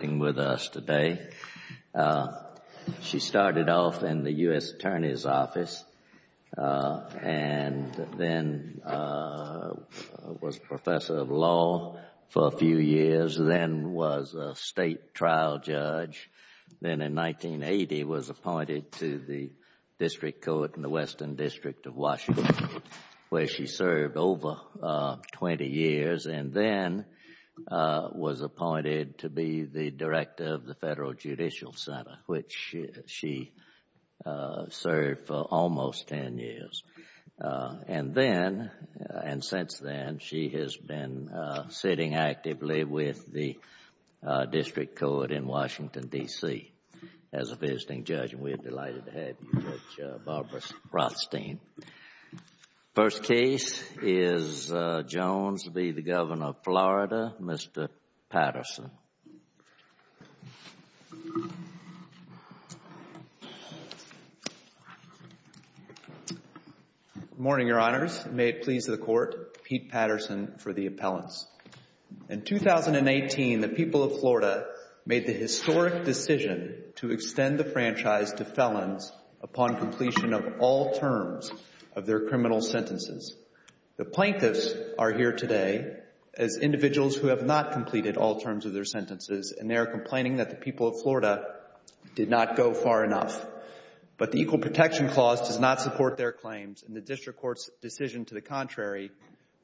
with us today. She started off in the U.S. Attorney's Office and then was a professor of law for a few years, then was a state trial judge, then in 1980 was appointed to the District Court in the Western District of Washington, where she served over 20 years, and then was Director of the Federal Judicial Center, which she served for almost 10 years. And since then, she has been sitting actively with the District Court in Washington, D.C. as a visiting judge, and we are delighted to have you, Barbara Rothstein. First case is Jones v. the Governor of Florida, Mr. Patterson. Good morning, Your Honors. May it please the Court, Pete Patterson for the appellants. In 2018, the people of Florida made the historic decision to extend the franchise to felons upon completion of all terms of their criminal sentences. The plaintiffs are here today as individuals who have not completed all terms of their sentences, and they are complaining that the people of Florida did not go far enough. But the Equal Protection Clause does not support their claims, and the District Court's decision to the contrary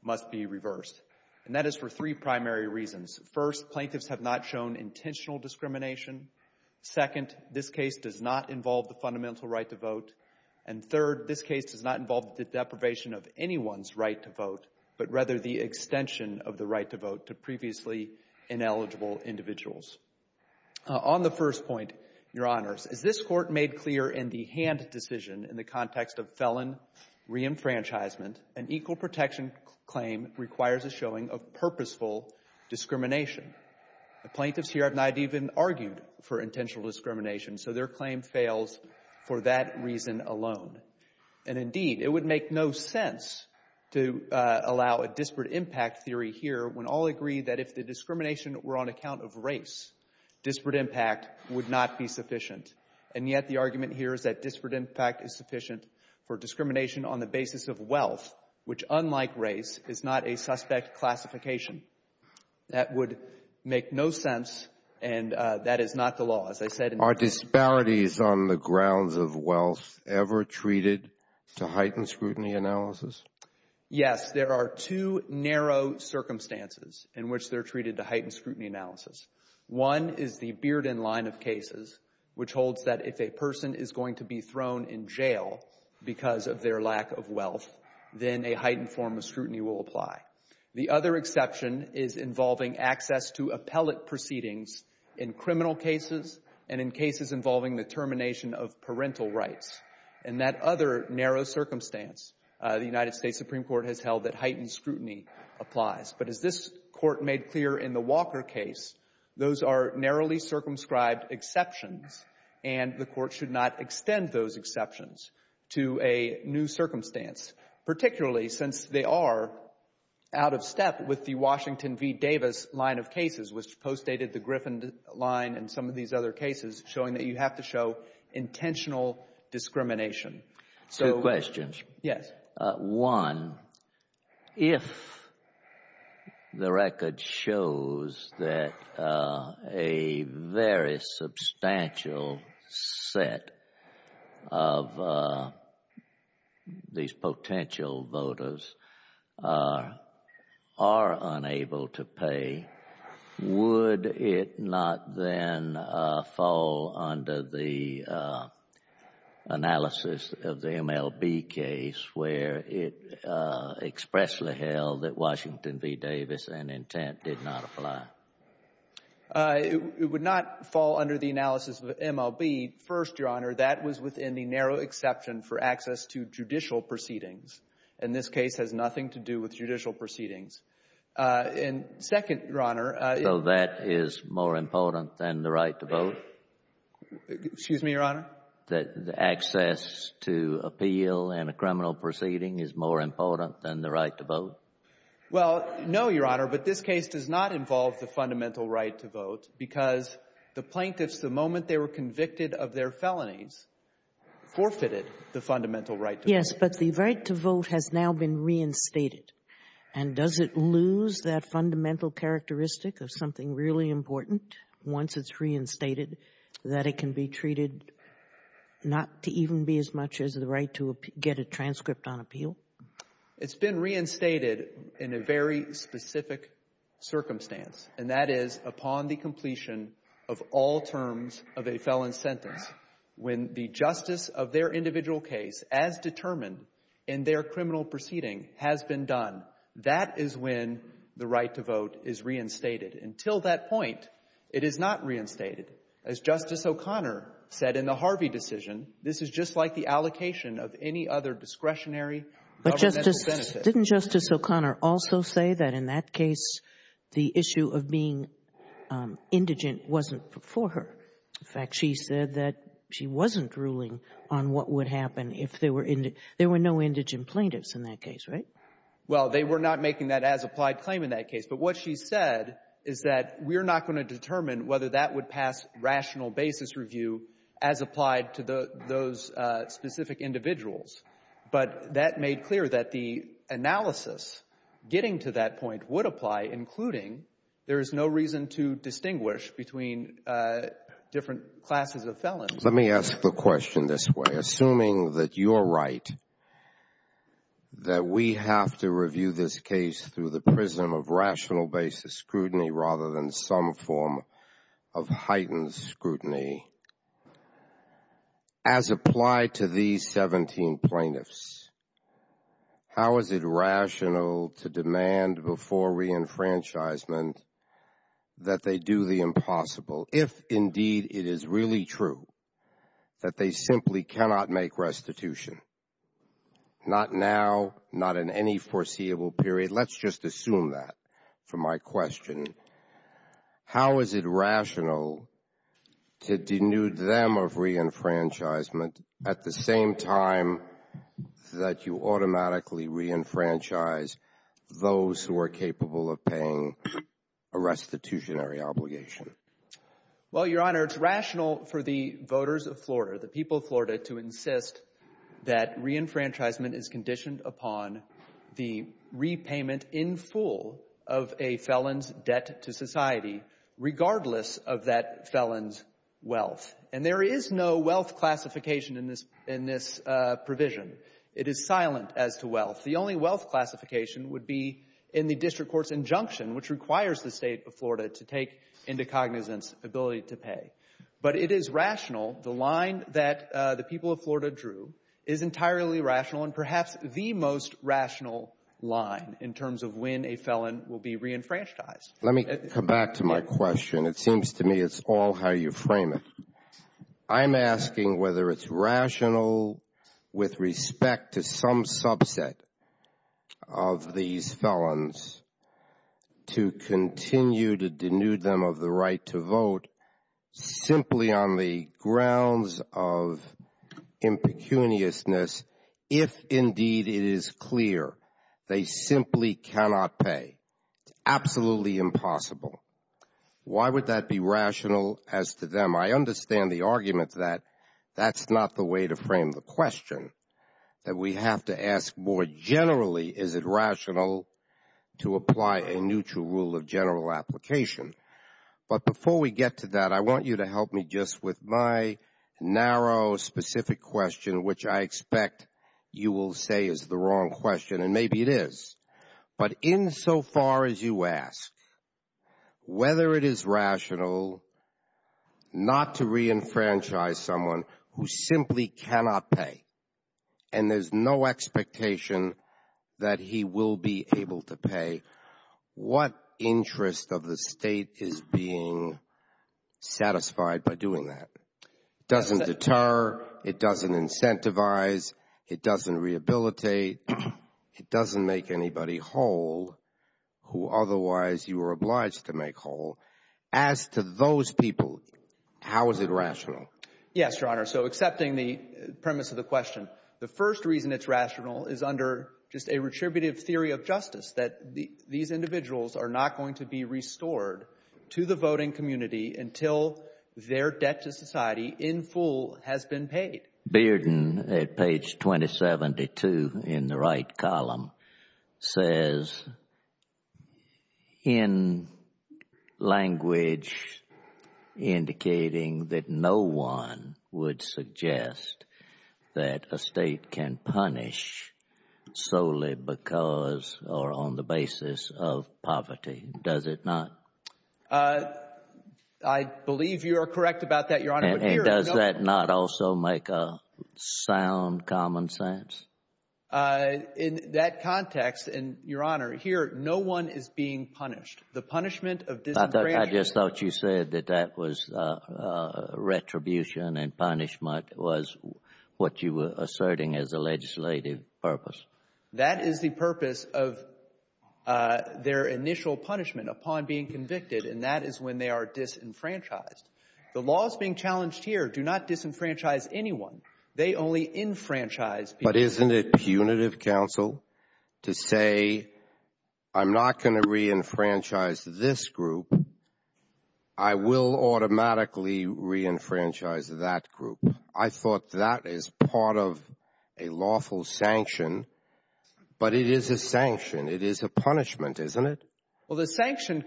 must be reversed. And that is for three primary reasons. First, plaintiffs have not shown intentional discrimination. Second, this case does not involve the fundamental right to vote. And third, this case does not involve the deprivation of anyone's right to vote, but rather the extension of the right to vote to previously ineligible individuals. On the first point, Your Honors, this Court made clear in the hand decision in the context of felon reenfranchisement, an Equal Protection Claim requires a showing of purposeful discrimination. The plaintiffs here have not even argued for intentional discrimination, so their claim fails for that reason alone. And indeed, it would make no sense to allow a disparate impact theory here when all agree that if the discrimination were on account of race, disparate impact would not be sufficient. And yet the argument here is that disparate impact is sufficient for discrimination on the basis of wealth, which unlike race, is not a suspect classification. That would make no sense, and that is not the law. As I said— Are disparities on the grounds of wealth ever treated to heightened scrutiny analysis? Yes. There are two narrow circumstances in which they're treated to heightened scrutiny analysis. One is the Bearden line of cases, which holds that if a person is going to be thrown in jail because of their lack of wealth, then a heightened form of scrutiny will apply. The other exception is involving access to appellate proceedings in criminal cases and in cases involving the termination of parental rights. In that other narrow circumstance, the United States Supreme Court has held that heightened scrutiny applies. But as this Court made clear in the Walker case, those are narrowly circumscribed exceptions, and the Court should not to a new circumstance, particularly since they are out of step with the Washington v. Davis line of cases, which postdated the Griffin line and some of these other cases, showing that you have to show intentional discrimination. Two questions. Yes. One, if the record shows that a very substantial set of these potential voters are unable to pay, would it not then fall under the analysis of the MLB case, where it expressly held that Washington v. Davis and intent did not apply? It would not fall under the analysis of MLB. First, Your Honor, that was within the narrow exception for access to judicial proceedings. And this case has nothing to do with judicial proceedings. And second, Your Honor— So that is more important than the right to vote? Excuse me, Your Honor? That access to appeal in a criminal proceeding is more important than the right to vote? Well, no, Your Honor, but this case does not involve the fundamental right to vote because the plaintiffs, the moment they were convicted of their felonies, forfeited the fundamental right to vote. Yes, but the right to vote has now been reinstated. And does it lose that fundamental characteristic of something really important once it's reinstated, that it can be treated not to even be as much as the right to get a transcript on appeal? It's been reinstated in a very specific circumstance, and that is upon the completion of all terms of a felon's sentence. When the justice of their individual case, as determined in their criminal proceeding, has been done, that is when the right to vote is reinstated. Until that point, it is not reinstated. As Justice O'Connor said in the Harvey decision, this is just like the allocation of any other discretionary governmental benefit. Didn't Justice O'Connor also say that in that case, the issue of being indigent wasn't for her? In fact, she said that she wasn't ruling on what would happen if there were no indigent plaintiffs in that case, right? Well, they were not making that as-applied claim in that case. But what she said is that we're not going to determine whether that would pass rational basis review as applied to those specific individuals. But that made clear that the analysis getting to that point would apply, including there is no reason to distinguish between different classes of felons. Let me ask the question this way. Assuming that you're right, that we have to review this case through the prism of rational basis scrutiny rather than some form of heightened scrutiny, as applied to these 17 plaintiffs, how is it rational to demand before reenfranchisement that they do the impossible, if indeed it is really true that they simply cannot make restitution? Not now, not in any foreseeable period. Let's just assume that for my question. How is it rational to denude them of reenfranchisement at the same time that you automatically reenfranchise those who are capable of paying a restitutionary obligation? Well, Your Honor, it's rational for the voters of Florida, the people of Florida, to insist that reenfranchisement is conditioned upon the repayment in full of a felon's debt to society regardless of that felon's wealth. And there is no wealth classification in this provision. It is silent as to wealth. The only wealth classification would be in the district court's injunction, which requires the state of Florida to take into cognizance ability to pay. But it is rational. The line that the people of Florida drew is entirely rational and perhaps the most rational line in terms of when a felon will be reenfranchised. Let me come back to my question. It seems to me it's all how you frame it. I'm asking whether it's rational with respect to some subset of these felons to continue to denude them of the right to vote simply on the grounds of impecuniousness, if indeed it is clear they simply cannot pay. Absolutely impossible. Why would that be rational as to them? I understand the argument that that's not the way to frame the question, that we have to ask more generally, is it rational to apply a neutral rule of general application? But before we get to that, I want you to help me just with my narrow, specific question, which I expect you will say is the wrong question, and maybe it is. But insofar as you ask, whether it is rational not to reenfranchise someone who simply cannot pay, and there's no expectation that he will be able to pay, what interest of the state is being satisfied by doing that? It doesn't deter, it doesn't incentivize, it doesn't rehabilitate, it doesn't make anybody whole who otherwise you were obliged to make whole. As to those people, how is it rational? Yes, Your Honor, so accepting the premise of the question, the first reason it's rational is under just a retributive theory of justice, that these individuals are not going to be restored to the voting community until their debt to society in full has been paid. Bearden at page 2072 in the right column says, in language indicating that no one would suggest that a state can punish solely because or on the basis of poverty, does it not? I believe you are correct about that, Your Honor. And does that not also make a sound common sense? In that context, and Your Honor, here, no one is being punished. The punishment of disenfranchisement… I just thought you said that that was retribution and punishment was what you were asserting as a legislative purpose. That is the purpose of their initial punishment upon being convicted, and that is when they are disenfranchised. The laws being challenged here do not disenfranchise anyone. They only enfranchise… But isn't it punitive, counsel, to say, I'm not going to reenfranchise this group. I will automatically reenfranchise that group. I thought that is part of a lawful sanction but it is a sanction. It is a punishment, isn't it? Well, the sanction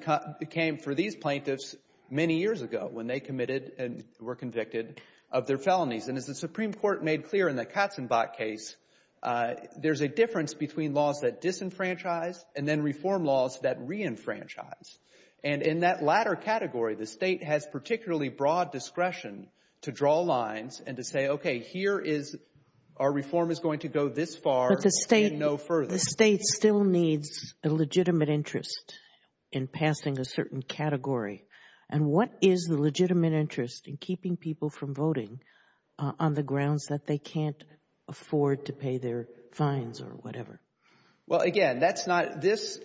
came for these plaintiffs many years ago when they committed and were convicted of their felonies. And as the Supreme Court made clear in the Katzenbach case, there is a difference between laws that disenfranchise and then reform laws that reenfranchise. And in that latter category, the state has particularly broad discretion to draw lines and to say, okay, here is… our reform is going to go this far. But the state still needs a legitimate interest in passing a certain category. And what is the legitimate interest in keeping people from voting on the grounds that they can't afford to pay their fines or whatever? Well, again, that's not… these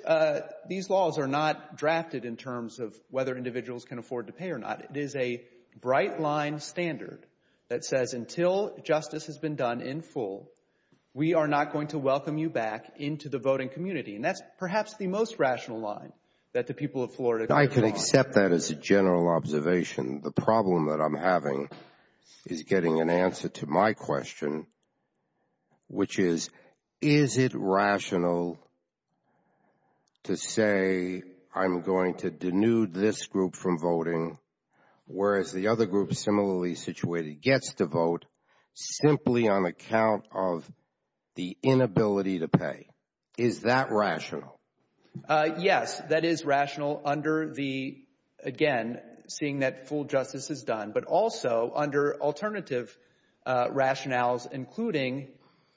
laws are not drafted in terms of whether individuals can afford to pay or not. It is a bright line standard that says until justice has been done in full, we are not going to welcome you back into the voting community. And that's perhaps the most rational line that the people of Florida… I can accept that as a general observation. The problem that I'm having is getting an answer to my question, which is, is it rational to say I'm going to denude this group from voting, whereas the other group similarly situated gets to vote simply on account of the inability to pay? Is that rational? Yes, that is rational under the… again, seeing that full justice is done, but also under alternative rationales, including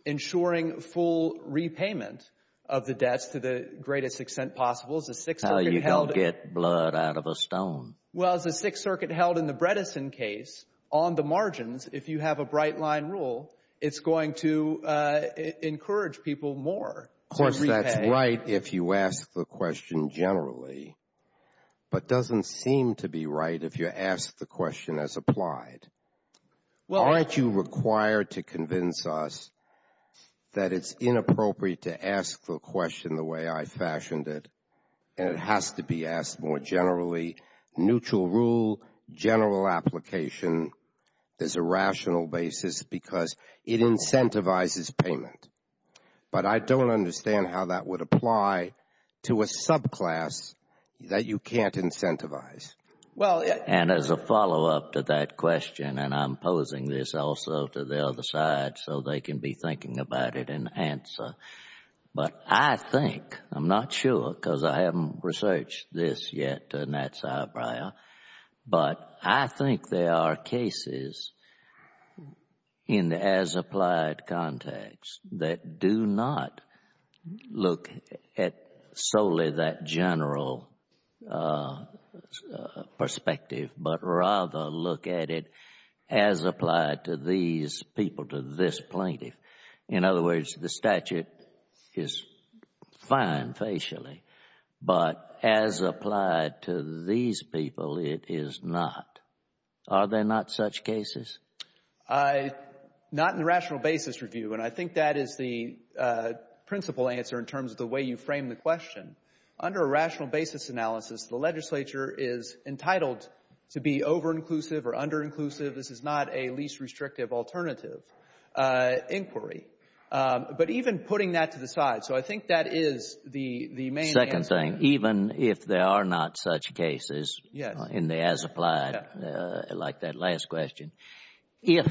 ensuring full repayment of the deaths to the greatest extent possible. As the Sixth Circuit held… How you don't get blood out of a stone. Well, as the Sixth Circuit held in the Bredesen case, on the margins, if you have a bright line rule, it's going to encourage people more. Of course, that's right if you ask the question generally, but doesn't seem to be right if you ask the question as applied. Aren't you required to convince us that it's inappropriate to ask the question the way I fashioned it, and it has to be asked more generally? Neutral rule, general application, there's a rational basis because it incentivizes payment, but I don't understand how that would apply to a subclass that you can't incentivize. Well, and as a follow-up to that question, and I'm posing this also to the other side so they can be thinking about it and answer, but I think, I'm not sure because I haven't researched this yet, Nat Zibria, but I think there are cases in the as-applied context that do not look at solely that general perspective, but rather look at it as applied to these people, to this plaintiff. In other words, the statute is fine facially, but as applied to these people, it is not. Are there not such cases? Not in the rational basis review, and I think that is the principal answer in terms of the way you frame the question. Under a rational basis analysis, the legislature is entitled to be over-inclusive or under-inclusive. This is not a least restrictive alternative inquiry, but even putting that to the side, so I think that is the main answer. Second thing, even if there are not such cases in the as-applied, like that last question, if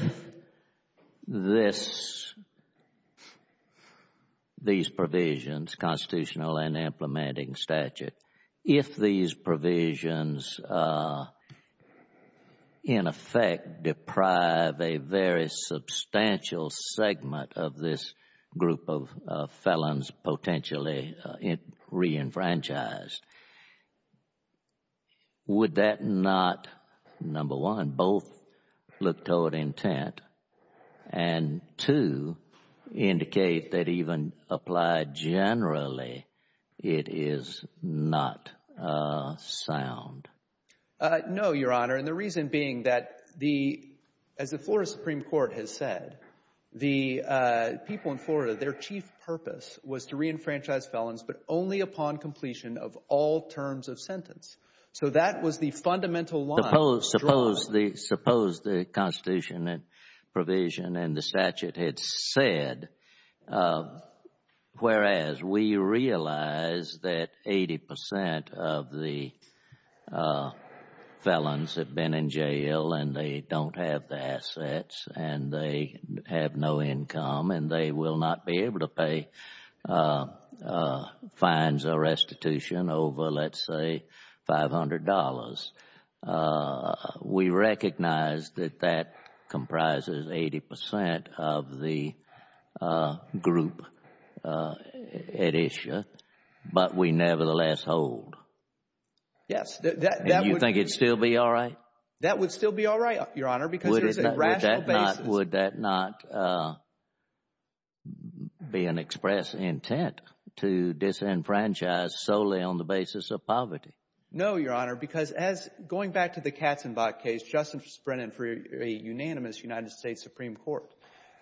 these provisions, constitutional and implementing statute, if these provisions in effect deprive a very substantial segment of this group of felons potentially re-enfranchised, would that not, number one, both look toward intent, and two, no, your honor, and the reason being that the, as the Florida Supreme Court has said, the people in Florida, their chief purpose was to re-enfranchise felons, but only upon completion of all terms of sentence, so that was the fundamental law. Suppose the constitution and felons have been in jail, and they don't have the assets, and they have no income, and they will not be able to pay fines or restitution over, let's say, $500. We recognize that that comprises 80% of the group at issue, but we nevertheless hold. Yes, and you think it would still be all right? That would still be all right, your honor. Would that not be an express intent to disenfranchise solely on the basis of poverty? No, your honor, because as, going back to the Katzenbach case, Justice Brennan for a unanimous United States Supreme Court,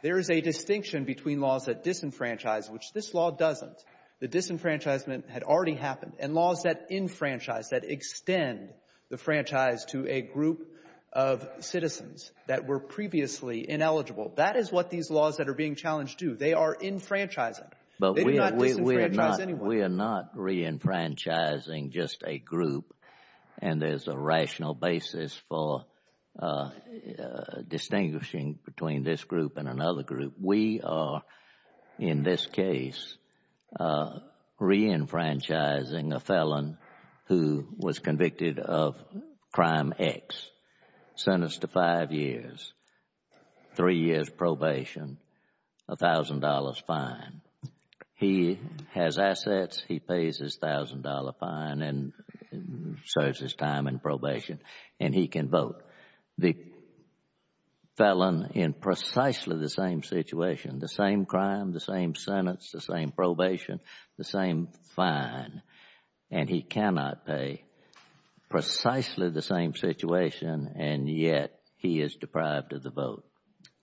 there is a distinction between laws that disenfranchise, which this law doesn't. The disenfranchisement had already happened, and laws that enfranchise, that extend the franchise to a group of citizens that were previously ineligible, that is what these laws that are being challenged do. They are enfranchising. We are not re-enfranchising just a group, and there's a rational basis for distinguishing between this group and another group. We are, in this case, re-enfranchising a felon who was convicted of crime X, sentenced to five years, three years probation, $1,000 fine. He has assets, he pays his $1,000 fine and serves his time in probation, and he can vote. The felon in precisely the same situation, the same crime, the same sentence, the same probation, the same fine, and he cannot pay. Precisely the same situation, and yet he is deprived of the vote.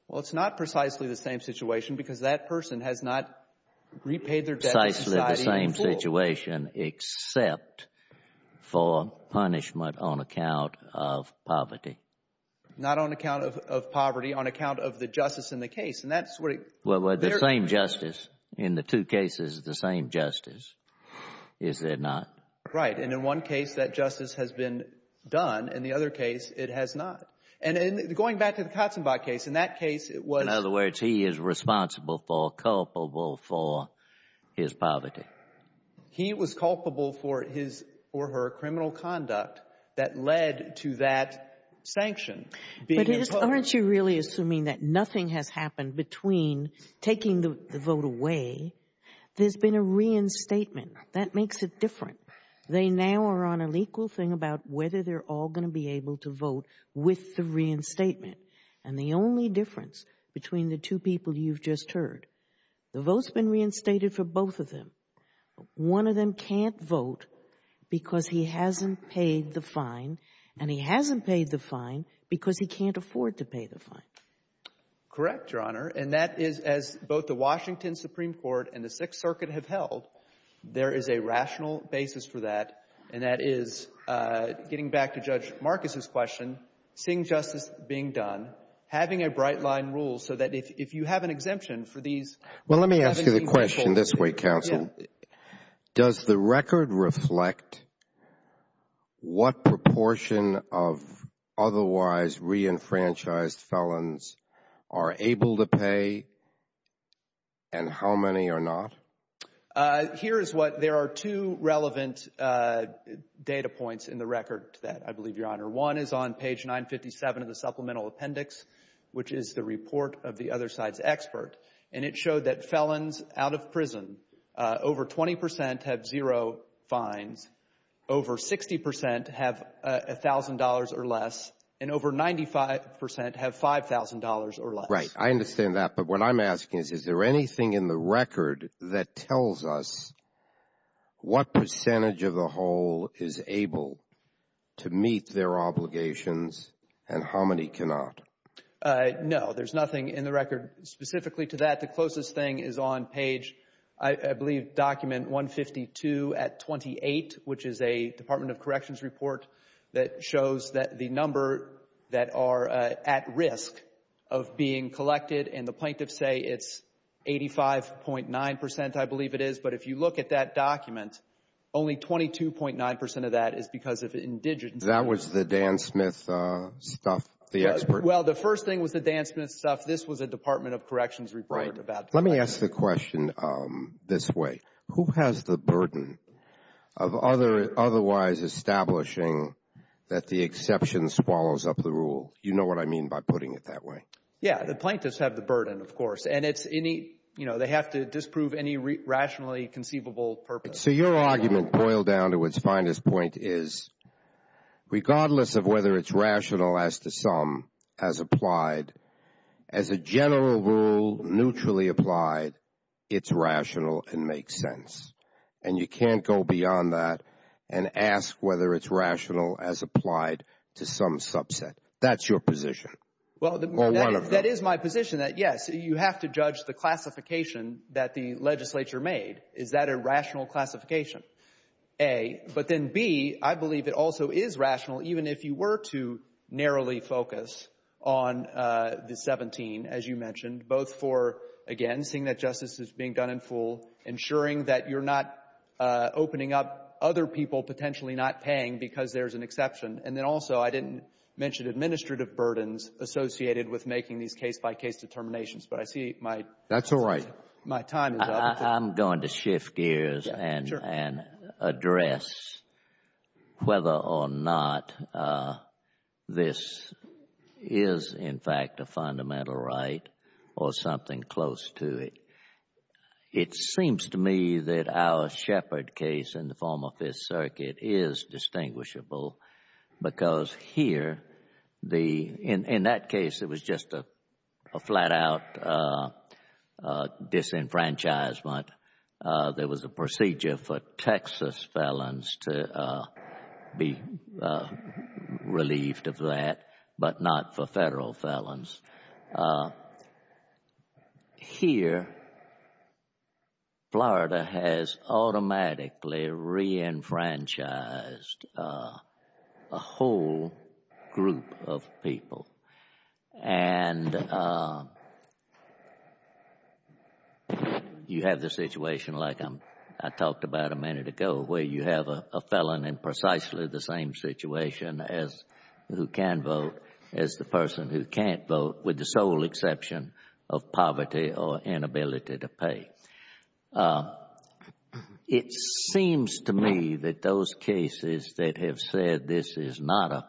Well, it's not precisely the same situation because that person has not repaid their debt. Precisely the same situation except for punishment on account of poverty. Not on account of poverty, on account of the justice in the case. Well, the same justice. In the two cases, the same justice, is there not? Right, and in one case that justice has been done, in the other case it has not. Going back to the Katzenbach case, in that case it was... In other words, he is responsible for, culpable for his poverty. He was culpable for his or her criminal conduct that led to that sanction. Aren't you really assuming that nothing has happened between taking the vote away? There's been a reinstatement. That makes it different. They now are on an equal thing about whether they're all going to be able to vote with the reinstatement. And the only difference between the two people you've just heard, the vote's been reinstated for both of them. One of them can't vote because he hasn't paid the fine, and he hasn't paid the fine because he can't afford to pay the fine. Correct, Your Honor, and that is as both the Washington Supreme Court and the Sixth Circuit have held, there is a rational basis for that, and that is, getting back to Judge Marcus's question, same justice being done, having a bright line rule so that if you have an exemption for these... Well, let me ask you the question this way, counsel. Does the record reflect what proportion of otherwise re-enfranchised felons are able to pay, and how many are not? Here is what, there are two relevant data points in the record that I believe, Your Honor. One is on page 957 of the supplemental appendix, which is the over 20% have zero fines, over 60% have $1,000 or less, and over 95% have $5,000 or less. Right, I understand that, but what I'm asking is, is there anything in the record that tells us what percentage of the whole is able to meet their obligations, and how many cannot? No, there's nothing in the record specifically to that. The closest thing is on page, I believe, document 152 at 28, which is a Department of Corrections report that shows that the number that are at risk of being collected, and the plaintiffs say it's 85.9%, I believe it is, but if you look at that document, only 22.9% of that is because of indigenous... That was the Dan Smith stuff, the expert... Well, the first thing with the Dan Smith stuff, this was a Department of Corrections report about... Let me ask the question this way, who has the burden of otherwise establishing that the exception swallows up the rule? Do you know what I mean by putting it that way? Yeah, the plaintiffs have the burden, of course, and they have to disprove any rationally conceivable purpose... So, your argument boiled down to its finest point is, regardless of whether it's rational as to some, as applied, as a general rule, neutrally applied, it's rational and makes sense. And you can't go beyond that and ask whether it's rational as applied to some subset. That's your position. Well, that is my position that, yes, you have to judge the classification that the legislature made. Is that a rational classification? A. But then B, I believe it also is rational, even if you were to narrowly focus on the 17, as you mentioned, both for, again, seeing that justice is being done in full, ensuring that you're not opening up other people potentially not paying because there's an exception. And then also, I didn't mention administrative burdens associated with making these case-by-case determinations, but I see my... I'm going to shift gears and address whether or not this is, in fact, a fundamental right or something close to it. It seems to me that our Shepard case in the form of Fifth Circuit is distinguishable because here, in that case, it was just a flat-out disenfranchisement. There was a procedure for Texas felons to be relieved of that, but not for federal felons. Here, Florida has automatically re-enfranchised a whole group of people, and you have the situation, like I talked about a minute ago, where you have a felon in precisely the same situation as who can vote, as the person who can't vote, with the sole exception of poverty or inability to pay. It seems to me that those cases that have said this is not a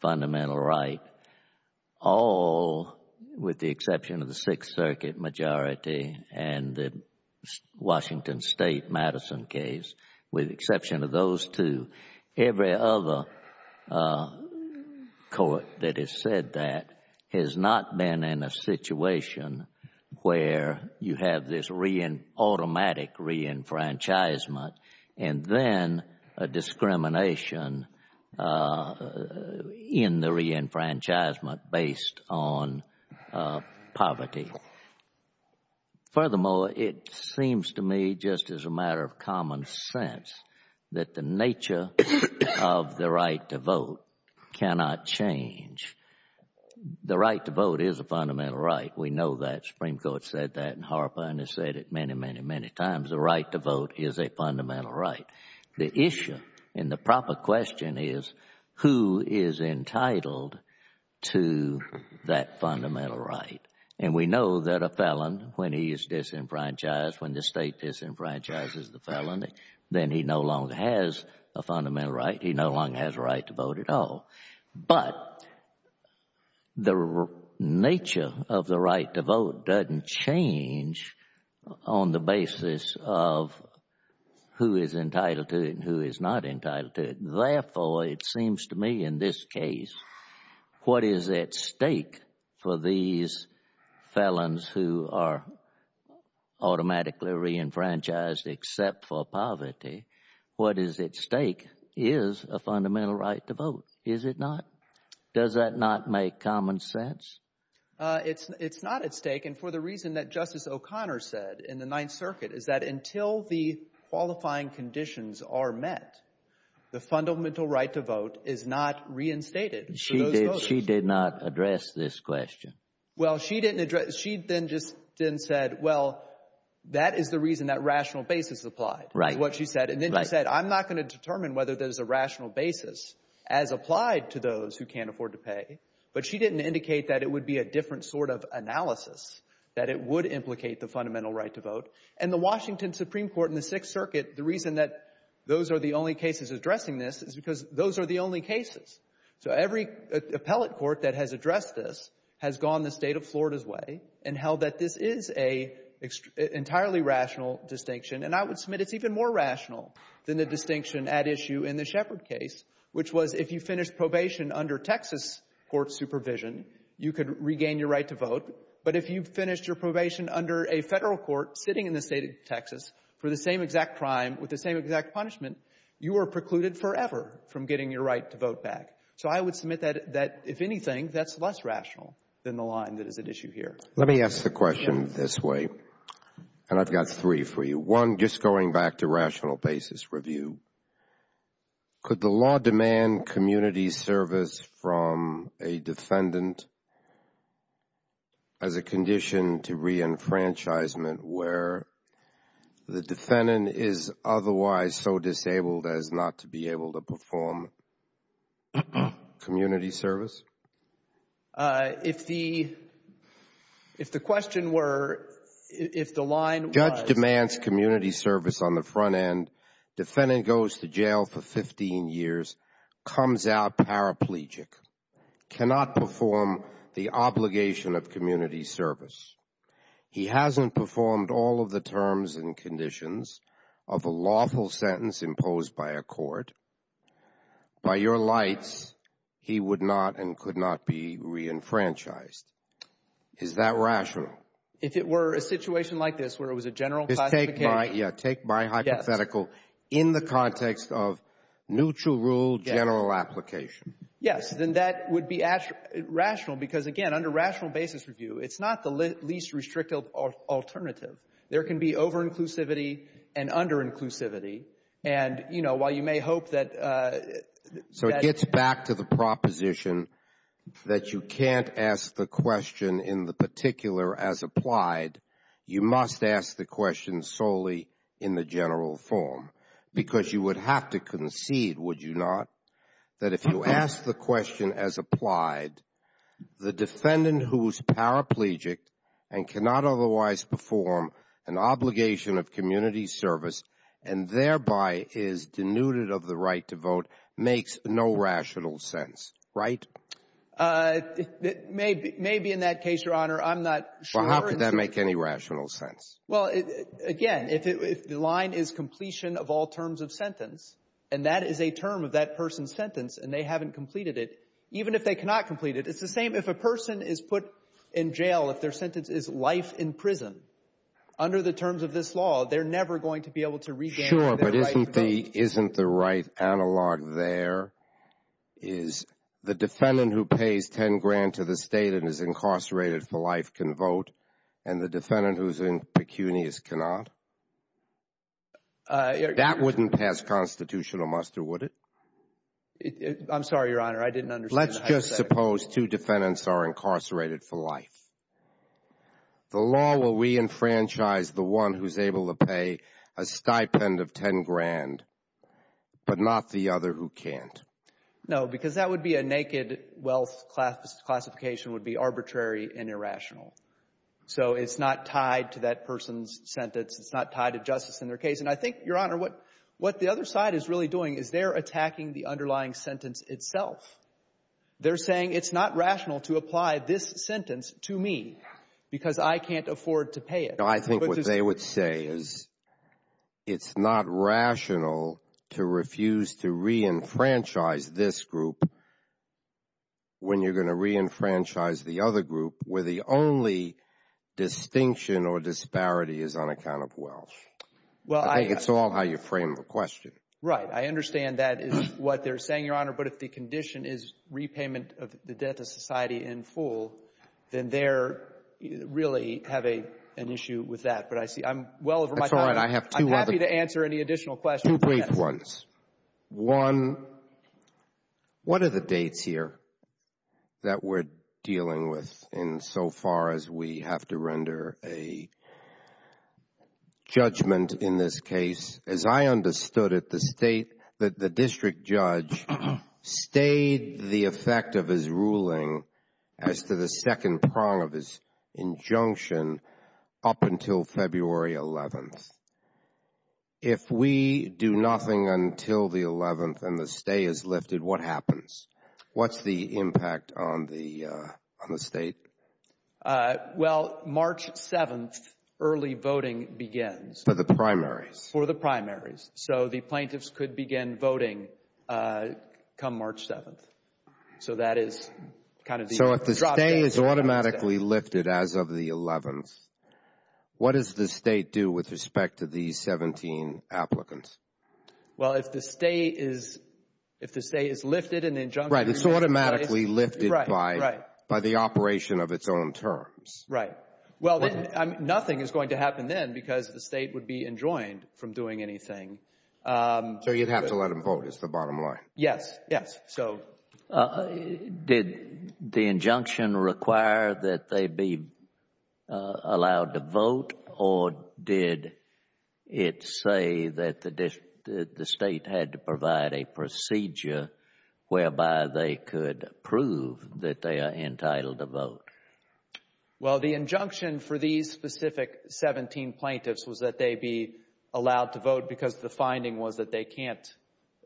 fundamental right, all with the exception of the Sixth Circuit majority and the Washington State Madison case, with the exception of those two. Every other court that has said that has not been in a situation where you have this automatic re-enfranchisement and then a discrimination in the re-enfranchisement based on poverty. Furthermore, it seems to me, just as a matter of common sense, that the nature of the right to vote cannot change. The right to vote is a fundamental right. We know that. The Supreme Court said that in HARPA and has said it many, many, many times. The right to vote is a fundamental right. The issue and the proper question is who is entitled to that fundamental right? And we know that a felon, when he is disenfranchised, when the state disenfranchises the felon, then he no longer has a fundamental right. He no longer has a right to vote at all. But the nature of the right to vote doesn't change on the basis of who is entitled to it and who is not entitled to it. Therefore, it seems to me in this case, what is at stake for these felons who are automatically re-enfranchised except for poverty? What is at stake is a fundamental right to vote, is it not? Does that not make common sense? It's not at stake. And for the reason that Justice O'Connor said in the Ninth Circuit is that until the qualifying conditions are met, the fundamental right to vote is not reinstated. She did not address this question. Well, she didn't address. She then just then said, well, that is the reason that rational basis applied. Right. What she said. And then I said, I'm not going to determine whether there's a rational basis as applied to those who can't afford to pay. But she didn't indicate that it would be a different sort of analysis, that it would implicate the fundamental right to vote. And the Washington Supreme Court in the Sixth Circuit, the reason that those are the only cases addressing this is because those are the only cases. So every appellate court that has addressed this has gone the state of Florida's way and held that this is an entirely rational distinction. And I would submit it's even more rational than the distinction at issue in the Shepard case, which was if you finish probation under Texas court supervision, you could regain your right to vote. But if you finish your probation under a federal court sitting in the state of Texas for the same exact crime with the same exact punishment, you are precluded forever from getting your right to vote back. So I would submit that if anything, that's less rational than the line that is at issue here. Let me ask the question this way. And I've got three for you. One, just going back to rational basis review, could the law demand community service from a defendant as a condition to re-enfranchisement where the defendant is otherwise so disabled as not to be able to perform community service? If the question were, if the line was... Judge demands community service on the front end. Defendant goes to jail for 15 years, comes out paraplegic, cannot perform the obligation of community service. He hasn't performed all of the terms and conditions of a lawful sentence imposed by a court. By your lights, he would not and could not be re-enfranchised. Is that rational? If it were a situation like this where it was a general classification... Yeah. Take my hypothetical in the context of neutral rule general application. Yes. Then that would be rational because again, under rational basis review, it's not the least restrictive alternative. There can be over-inclusivity and under-inclusivity. And while you may hope that... So it gets back to the proposition that you can't ask the question in the particular as applied, you must ask the question solely in the general form because you would have to concede, would you not, that if you ask the question as applied, the defendant who's paraplegic and cannot otherwise perform an obligation of community service and thereby is denuded of the right to vote, makes no rational sense, right? Maybe in that case, your honor, I'm not sure. How could that make any rational sense? Well, again, if the line is completion of all terms of sentence, and that is a term of that person's sentence and they haven't completed it, even if they cannot complete it, it's the same if a person is put in jail, if their sentence is life in prison, under the terms of this law, they're never going to be able to regain... Sure, but isn't the right analog there is the defendant who pays 10 grand to the state and is incarcerated for life can vote and the defendant who's in pecunious cannot? That wouldn't pass constitutional muster, would it? I'm sorry, your honor. I didn't understand. Let's just suppose two defendants are incarcerated for life. The law will re-enfranchise the one who's able to pay a stipend of 10 grand, but not the other who can't. No, because that would be a naked wealth classification would be arbitrary and irrational. So it's not tied to that person's sentence. It's not tied to justice in their case. And I think, your honor, what the other side is really doing is they're attacking the underlying sentence itself. They're saying it's not rational to apply this sentence to me because I can't afford to pay it. I think what they would say is it's not rational to refuse to re-enfranchise this group when you're going to re-enfranchise the other group where the only distinction or disparity is on account of wealth. Well, I think it's all how you frame the question. Right. I understand that is what they're saying, your honor. But if the condition is repayment of the debt to society in full, then they're really having an issue with that. But I see I'm well over my time. I'm happy to answer any additional questions. Two brief ones. One, what are the dates here that we're dealing with in so far as we have to render a case? As I understood it, the district judge stayed the effect of his ruling as to the second prong of his injunction up until February 11th. If we do nothing until the 11th and the stay is lifted, what happens? What's the impact on the state? Well, March 7th, early voting begins. For the primaries. For the primaries. So the plaintiffs could begin voting come March 7th. So that is kind of the... So if the stay is automatically lifted as of the 11th, what does the state do with respect to the 17 applicants? Well, if the stay is lifted and injunction... Right, it's automatically lifted by the operation of its own terms. Right. Well, nothing is going to happen then because the state would be enjoined from doing anything. So you have to let them vote. It's the bottom line. Yes, yes. Did the injunction require that they be allowed to vote or did it say that the state had to provide a procedure whereby they could prove that they are entitled to vote? Well, the injunction for these specific 17 plaintiffs was that they be allowed to vote because the finding was that they can't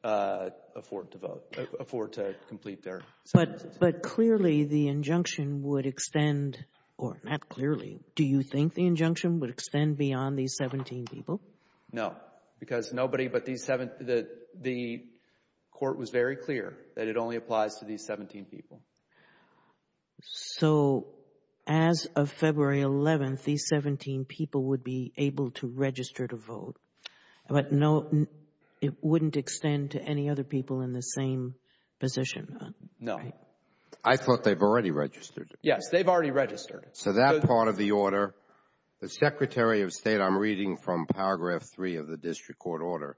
afford to vote, afford to complete their... But clearly the injunction would extend, or not clearly, do you think the injunction would extend beyond these 17 people? No, because nobody but the court was very clear that it only applies to these 17 people. So, as of February 11th, these 17 people would be able to register to vote, but it wouldn't extend to any other people in the same position? No. I thought they've already registered. Yes, they've already registered. So that part of the order, the Secretary of State, I'm reading from paragraph three of the district court order,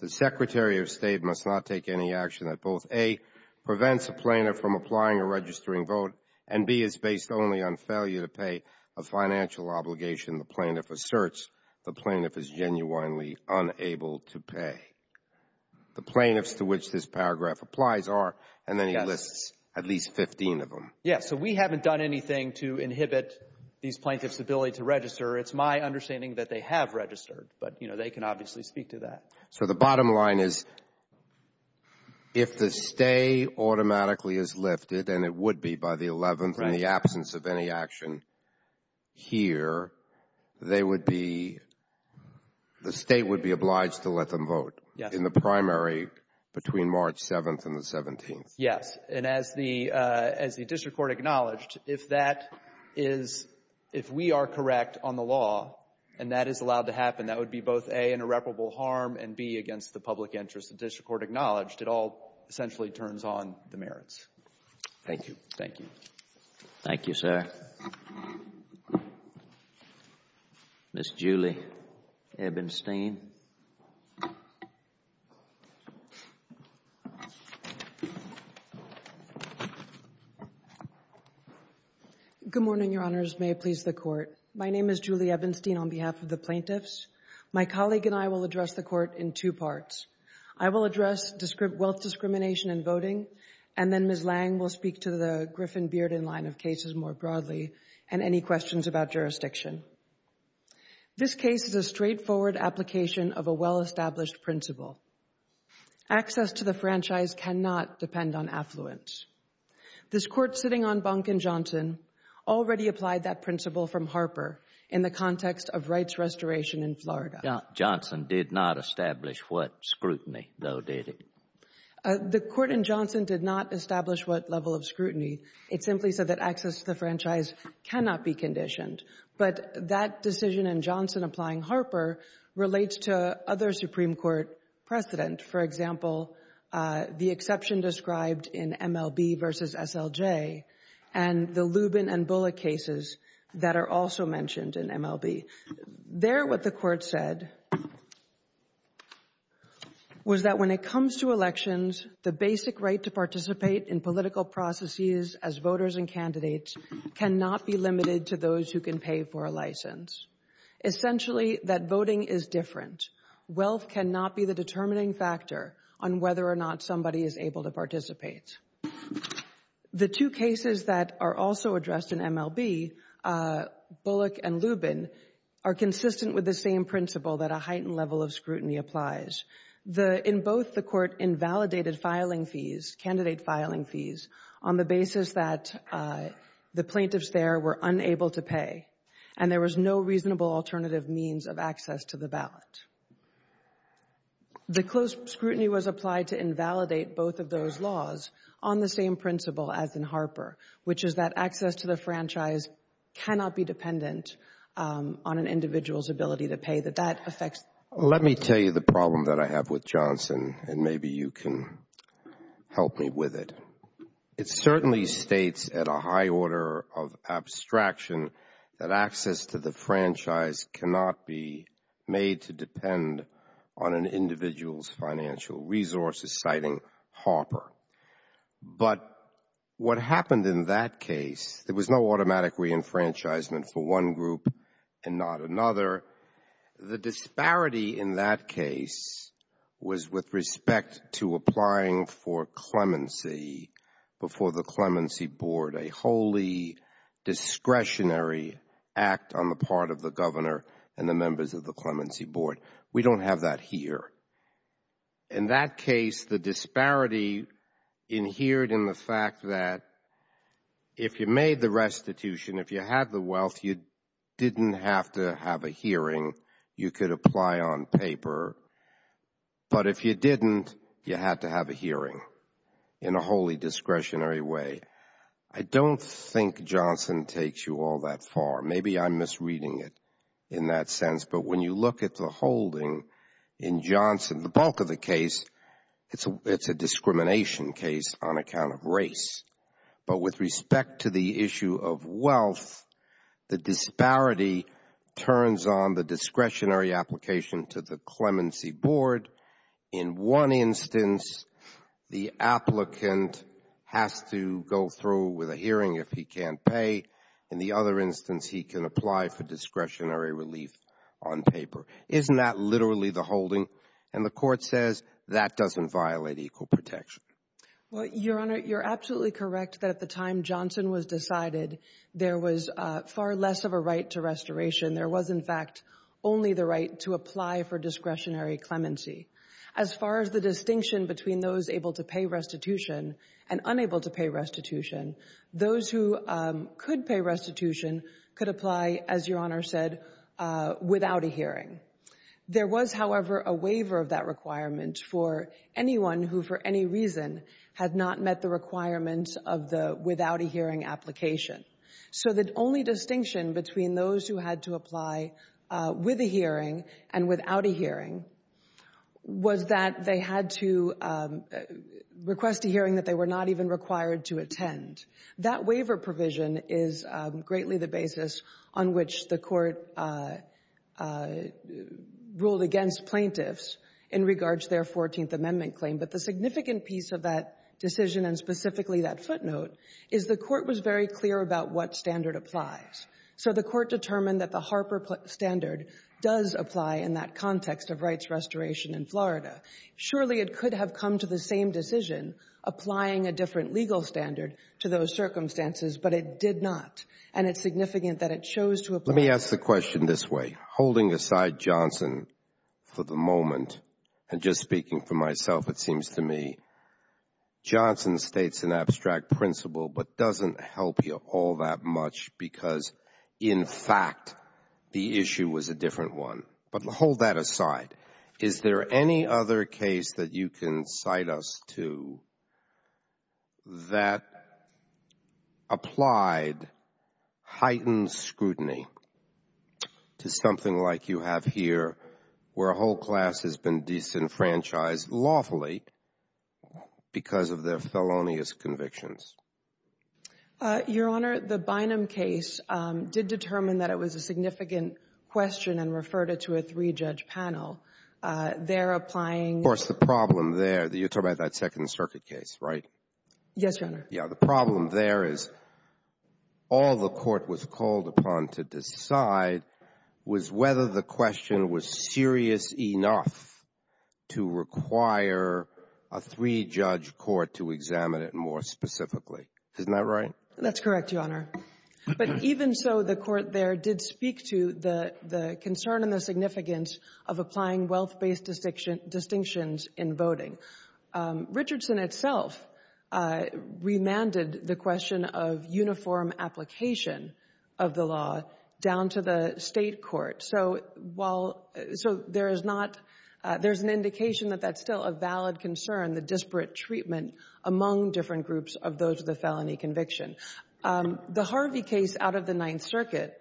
the Secretary of State must not take any action that both, A, prevents a plaintiff from applying or registering vote, and B, it's based only on failure to pay a financial obligation the plaintiff asserts the plaintiff is genuinely unable to pay. The plaintiffs to which this paragraph applies are, and then he lists at least 15 of them. Yeah, so we haven't done anything to inhibit these plaintiffs' ability to register. It's my understanding that they have registered, but they can obviously speak to that. So, the bottom line is, if the stay automatically is lifted, and it would be by the 11th in the absence of any action here, they would be, the state would be obliged to let them vote in the primary between March 7th and the 17th. Yes, and as the district court acknowledged, if that is, if we are correct on the law and that is allowed to happen, that would be both, A, an irreparable harm, and B, against the public interest. The district court acknowledged it all essentially turns on the merits. Thank you. Thank you. Thank you, sir. Ms. Julie Ebenstein. Good morning, your honors. May it please the court. My name is Julie Ebenstein on behalf of the plaintiffs. My colleague and I will address the court in two parts. I will address wealth discrimination and voting, and then Ms. Lang will speak to the Griffin-Bearden line of cases more broadly and any questions about jurisdiction. This case is a straightforward application of a well-established principle. Access to the franchise cannot depend on affluence. This court sitting on Bonk and Johnson already applied that principle from Harper in the context of rights restoration in Florida. Johnson did not establish what scrutiny, though, did it? The court in Johnson did not establish what level of scrutiny. It simply said that access to the franchise cannot be conditioned, but that decision in Johnson applying Harper relates to other Supreme Court precedent. For example, the exception described in MLB versus SLJ and the Lubin and Bullock cases that are also mentioned in MLB. There, what the court said was that when it comes to elections, the basic right to participate in political processes as voters and candidates cannot be limited to those who can pay for a license. Essentially, that voting is different. Wealth cannot be the determining factor on whether or not somebody is able to participate. The two cases that are also addressed in MLB, Bullock and Lubin, are consistent with the same principle that a heightened level of scrutiny applies. In both, the court invalidated filing fees, candidate filing fees, on the basis that the plaintiffs there were unable to pay and there was no reasonable alternative means of access to the ballot. The close scrutiny was applied to invalidate both of those laws on the same principle as in Harper, which is that access to the franchise cannot be dependent on an individual's ability to pay, that that affects. Let me tell you the problem that I have with Johnson, and maybe you can help me with it. It certainly states at a high order of abstraction that access to the franchise cannot be made to depend on an individual's financial resources, citing Harper. But what happened in that case, there was no automatic reenfranchisement for one group and not another. The disparity in that case was with respect to applying for clemency before the clemency board, a wholly discretionary act on the part of the governor and the members of the clemency board. We don't have that here. In that case, the disparity inhered in the fact that if you made the restitution, if you had the wealth, you didn't have to have a hearing. You could apply on paper. But if you didn't, you had to have a hearing in a wholly discretionary way. I don't think Johnson takes you all that far. Maybe I'm misreading it in that sense. But when you look at the holding in Johnson, the bulk of the case, it's a discrimination case on account of race. But with respect to the issue of wealth, the disparity turns on the discretionary application to the clemency board. In one instance, the applicant has to go through with a hearing if he can't pay. In the other instance, he can apply for discretionary relief on paper. Isn't that literally the holding? And the court says that doesn't violate equal protection. Well, Your Honor, you're absolutely correct that at the time Johnson was decided, there was far less of a right to restoration. There was, in fact, only the right to apply for discretionary clemency. As far as the distinction between those able to pay restitution and unable to pay restitution, those who could pay restitution could apply, as Your Honor said, without a hearing. There was, however, a waiver of that requirement for anyone who for any reason had not met the requirements of the without a hearing application. So the only distinction between those who had to apply with a hearing and without a hearing was that they had to request a hearing that they were not even required to attend. That waiver provision is greatly the basis on which the court ruled against plaintiffs in regards to their 14th Amendment claim. But the significant piece of that decision and specifically that footnote is the court was very clear about what standard applies. So the court determined that the Harper standard does apply in that context of rights restoration in Florida. Surely it could have come to the same decision applying a different legal standard to those circumstances, but it did not. And it's significant that it chose to apply. Let me ask the question this way. Holding aside Johnson for the moment and just speaking for myself, it seems to me, Johnson states an abstract principle but doesn't help you all that much because, in fact, the issue was a different one. But hold that aside. Is there any other case that you can cite us to that applied heightened scrutiny to something like you have here where a whole class has been disenfranchised lawfully because of their felonious convictions? Your Honor, the Bynum case did determine that it was a significant question and referred it to a three-judge panel. They're applying. Of course, the problem there, you're talking about that Second Circuit case, right? Yes, Your Honor. Yeah. The problem there is all the court was called upon to decide was whether the question was serious enough to require a three-judge court to examine it more specifically. Isn't that right? That's correct, Your Honor. But even so, the court there did speak to the concern and the significance of applying wealth-based distinctions in voting. Richardson itself remanded the question of uniform application of the law down to the state court. So while – so there is not – there's an indication that that's still a valid concern, the disparate treatment among different groups of those with a felony conviction. The Harvey case out of the Ninth Circuit,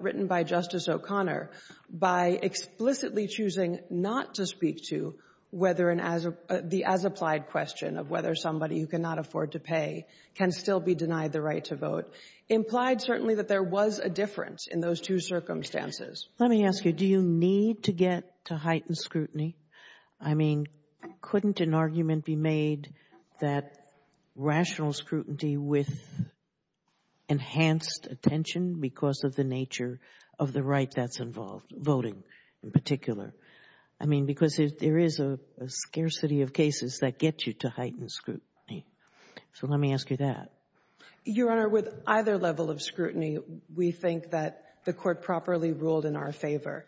written by Justice O'Connor, by explicitly choosing not to speak to whether an – the as-applied question of whether somebody who cannot afford to pay can still be denied the right to vote, implied certainly that there was a difference in those two circumstances. Let me ask you, do you need to get to heightened scrutiny? I mean, couldn't an argument be made that rational scrutiny with enhanced attention because of the nature of the right that's involved, voting in particular? I mean, because there is a scarcity of cases that get you to heightened scrutiny. So let me ask you that. Your Honor, with either level of scrutiny, we think that the court properly ruled in our favor.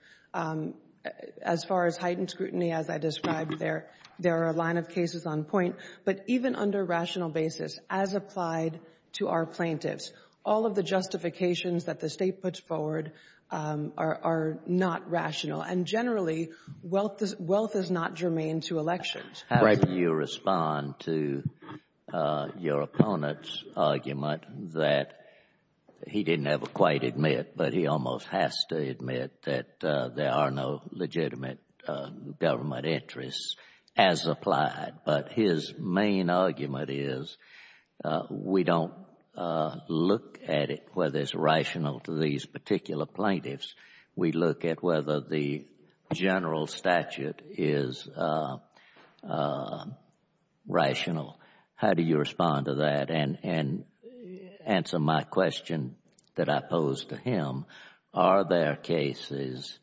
As far as heightened scrutiny, as I described there, there are a line of cases on point. But even under rational basis, as applied to our plaintiffs, all of the justifications that the state puts forward are not rational. And generally, wealth is not germane to elections. How do you respond to your opponent's argument that he didn't ever quite admit, but he almost has to admit that there are no legitimate government interests as applied? But his main argument is, we don't look at it whether it's rational to these particular plaintiffs. We look at whether the general statute is rational. How do you respond to that? And answer my question that I posed to him. Are there cases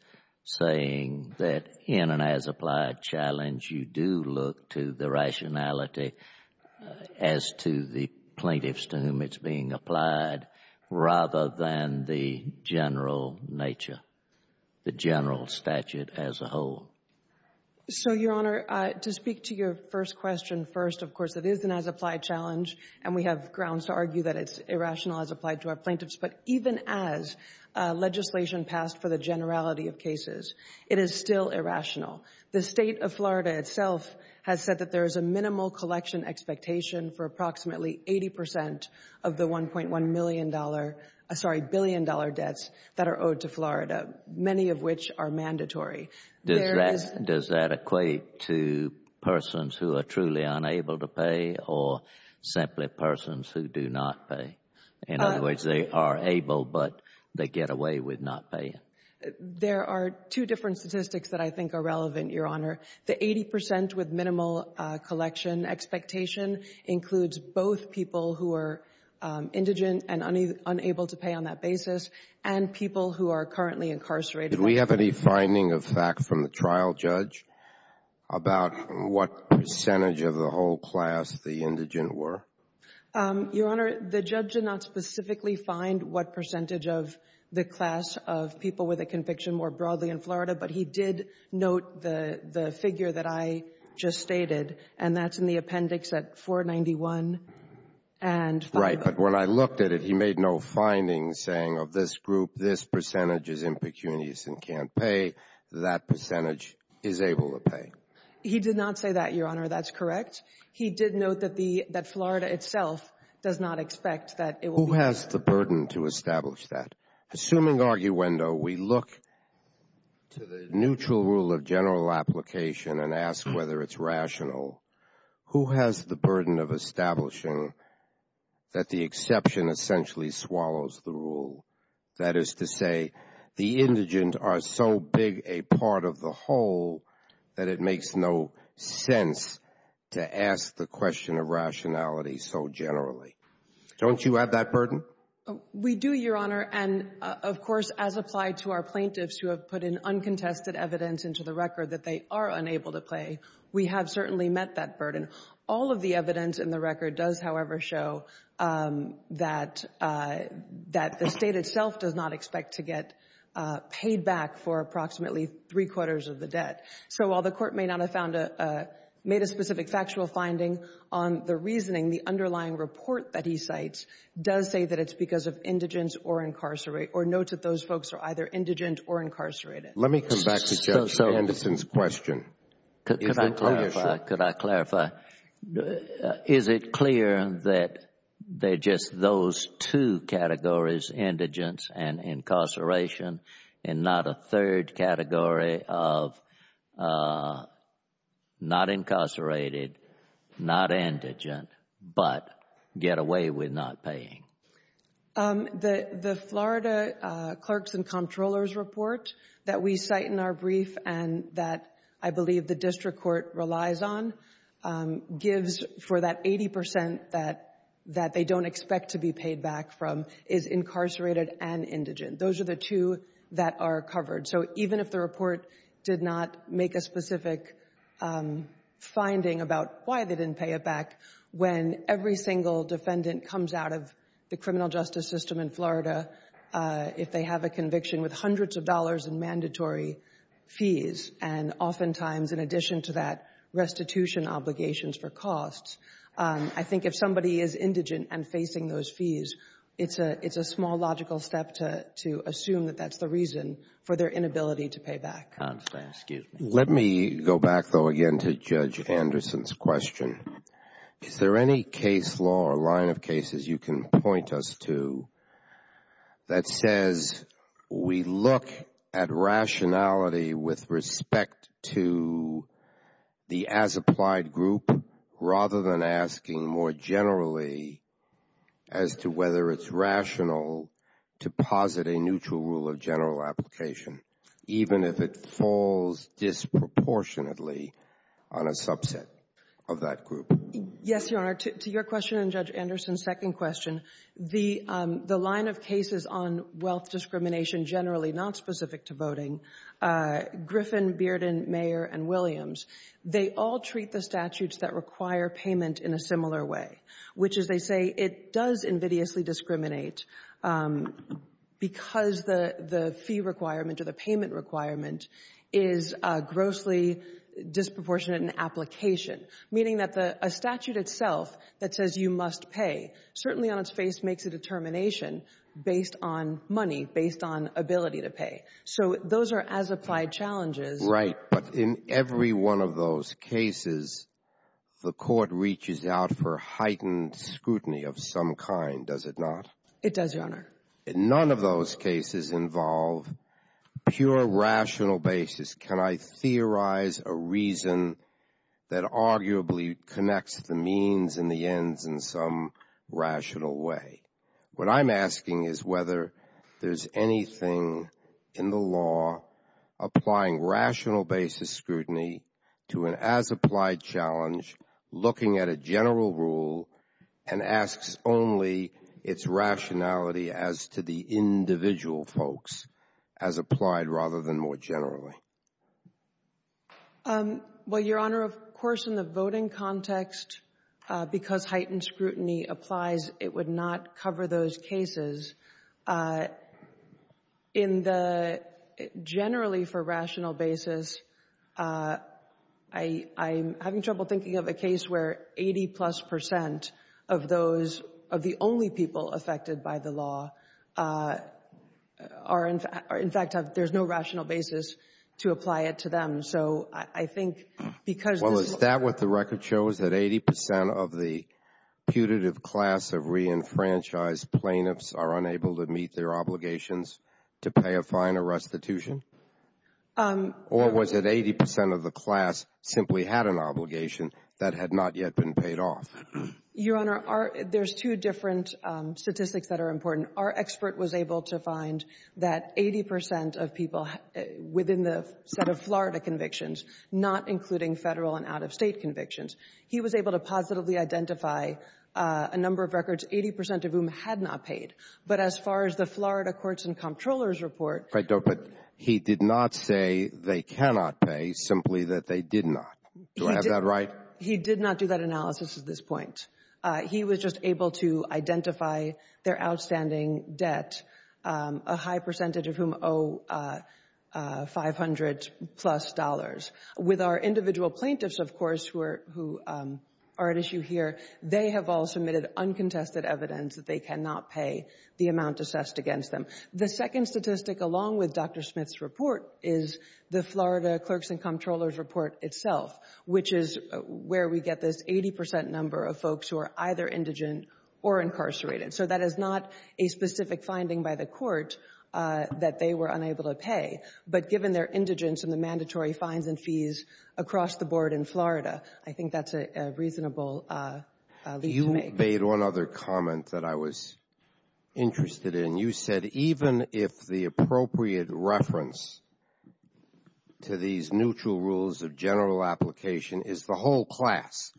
saying that in an as-applied challenge, you do look to the rationality as to the plaintiffs to whom it's being applied, rather than the general nature, the general statute as a whole? So, Your Honor, to speak to your first question, first, of course, it is an as-applied challenge. And we have grounds to argue that it's irrational as applied to our plaintiffs. But even as legislation passed for the generality of cases, it is still irrational. The state of Florida itself has said that there is a minimal collection expectation for approximately 80% of the $1.1 billion debts that are owed to Florida, many of which are mandatory. Does that equate to persons who are truly unable to pay, or simply persons who do not pay? In other words, they are able, but they get away with not paying. There are two different statistics that I think are relevant, Your Honor. The 80% with minimal collection expectation includes both people who are indigent and unable to pay on that basis, and people who are currently incarcerated. Did we have any finding of fact from the trial judge about what percentage of the whole class the indigent were? Your Honor, the judge did not specifically find what percentage of the class of people with a conviction were broadly in Florida. But he did note the figure that I just stated. And that's in the appendix at 491. Right. But when I looked at it, he made no finding saying of this group, this percentage is pecunious and can't pay. That percentage is able to pay. He did not say that, Your Honor. That's correct. He did note that Florida itself does not expect that it will pay. Who has the burden to establish that? Assuming arguendo, we look to the neutral rule of general application and ask whether it's rational. Who has the burden of establishing that the exception essentially swallows the rule? That is to say, the indigent are so big a part of the whole that it makes no sense to ask the question of rationality so generally. Don't you have that burden? We do, Your Honor. And of course, as applied to our plaintiffs who have put in uncontested evidence into the record that they are unable to pay, we have certainly met that burden. All of the evidence in the record does, however, show that the state itself does not expect to get paid back for approximately three-quarters of the debt. So while the court may not have made a specific factual finding on the reasoning, the underlying report that he cites does say that it's because of indigent or incarcerated or notes that those folks are either indigent or incarcerated. Let me come back to Judge Anderson's question. Could I clarify? Could I clarify? Is it clear that they're just those two categories, indigent and incarceration, and not a third category of not incarcerated, not indigent, but get away with not paying? The Florida Clerks and Comptrollers report that we cite in our brief and that I believe the district court relies on gives for that 80% that they don't expect to be paid back from is incarcerated and indigent. Those are the two that are covered. So even if the report did not make a specific finding about why they didn't pay it back, when every single defendant comes out of the criminal justice system in Florida, if they have a conviction with hundreds of dollars in mandatory fees and oftentimes in addition to that restitution obligations for costs, I think if somebody is indigent and facing those fees, it's a small logical step to assume that that's the reason for their inability to pay back. Let me go back though again to Judge Anderson's question. Is there any case law or line of cases you can point us to that says we look at rationality with respect to the as-applied group rather than asking more generally as to whether it's rational to posit a neutral rule of general application, even if it falls disproportionately on a subset of that group? Yes, Your Honor. To your question and Judge Anderson's second question, the line of cases on wealth discrimination generally not specific to voting, Griffin, Bearden, Mayer, and Williams, they all treat the statutes that require payment in a similar way, which is they say it does invidiously discriminate because the fee requirement or the payment requirement is grossly disproportionate in application, meaning that a statute itself that says you must pay certainly on its face makes a determination based on money, based on ability to pay. So those are as-applied challenges. Right. But in every one of those cases, the court reaches out for heightened scrutiny of some kind, does it not? It does, Your Honor. None of those cases involve pure rational basis. Can I theorize a reason that arguably connects the means and the ends in some rational way? What I'm asking is whether there's anything in the law applying rational basis scrutiny to an as-applied challenge looking at a general rule and asks only its rationality as to the individual folks as applied rather than more generally. Well, Your Honor, of course, in the voting context, because heightened scrutiny applies, it would not cover those cases. Generally, for rational basis, I'm having trouble thinking of a case where 80-plus percent of those, of the only people affected by the law, in fact, there's no rational basis to apply it to them. So I think because— Well, the stat with the record shows that 80 percent of the putative class of re-enfranchised plaintiffs are unable to meet their obligations to pay a fine or restitution. Or was it 80 percent of the class simply had an obligation that had not yet been paid off? Your Honor, there's two different statistics that are important. Our expert was able to find that 80 percent of people within the set of Florida convictions, not including federal and out-of-state convictions, he was able to positively identify a number of records, 80 percent of whom had not paid. But as far as the Florida Courts and Comptrollers Report— But he did not say they cannot pay, simply that they did not. Do I have that right? He did not do that analysis at this point. He was just able to identify their outstanding debt, a high percentage of whom owe 500-plus dollars. With our individual plaintiffs, of course, who are at issue here, they have all submitted uncontested evidence that they cannot pay the amount assessed against them. The second statistic, along with Dr. Smith's report, is the Florida Courts and Comptrollers Report itself, which is where we get this 80 percent number of folks who are either indigent or incarcerated. So that is not a specific finding by the court that they were unable to pay. But given their indigence and the mandatory fines and fees across the board in Florida, I think that is a reasonable— You made one other comment that I was interested in. You said, even if the appropriate reference to these neutral rules of general application is the whole class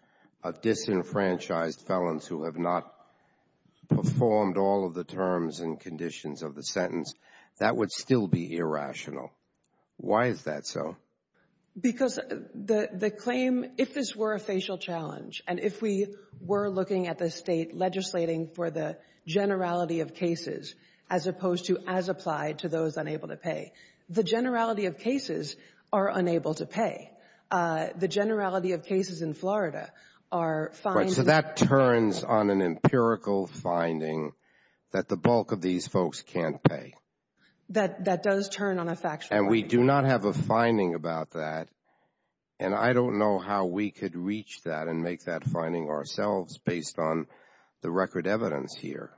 of disenfranchised felons who have not performed all of the terms and Why is that so? Because the claim—if this were a facial challenge, and if we were looking at the state legislating for the generality of cases as opposed to as applied to those unable to pay, the generality of cases are unable to pay. The generality of cases in Florida are— So that turns on an empirical finding that the bulk of these folks can't pay. That does turn on a factual— And we do not have a finding about that, and I don't know how we could reach that and make that finding ourselves based on the record evidence here.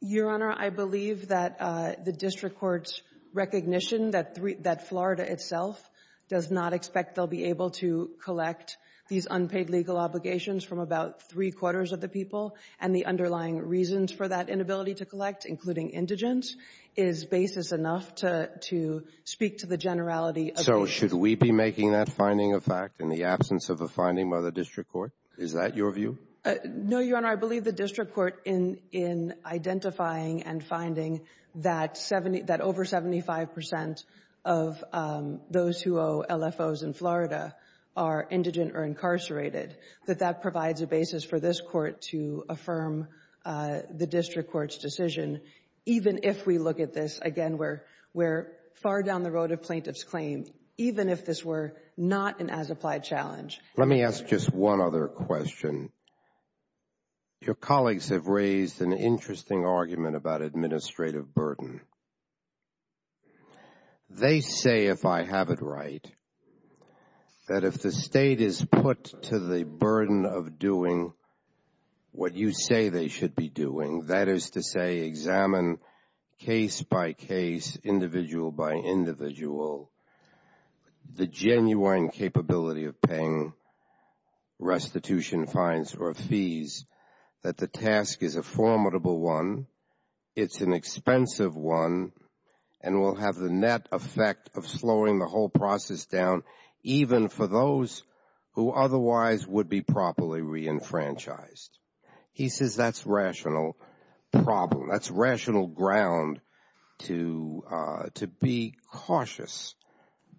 Your Honor, I believe that the district court's recognition that Florida itself does not expect they'll be able to collect these unpaid legal obligations from about three-quarters of the people and the underlying reasons for that inability to collect, including indigence, is basis enough to speak to the generality of— So should we be making that finding a fact in the absence of a finding by the district court? Is that your view? No, Your Honor. I believe the district court in identifying and finding that over 75 percent of those who owe LFOs in Florida are indigent or incarcerated, that that provides a basis for this court to again, we're far down the road of plaintiff's claim, even if this were not an as-applied challenge. Let me ask just one other question. Your colleagues have raised an interesting argument about administrative burden. They say, if I have it right, that if the state is put to the burden of doing what you say they should be doing, that is to say, examine case by case, individual by individual, the genuine capability of paying restitution fines or fees, that the task is a formidable one, it's an expensive one, and will have the net effect of slowing the whole franchise. He says that's rational problem. That's rational ground to be cautious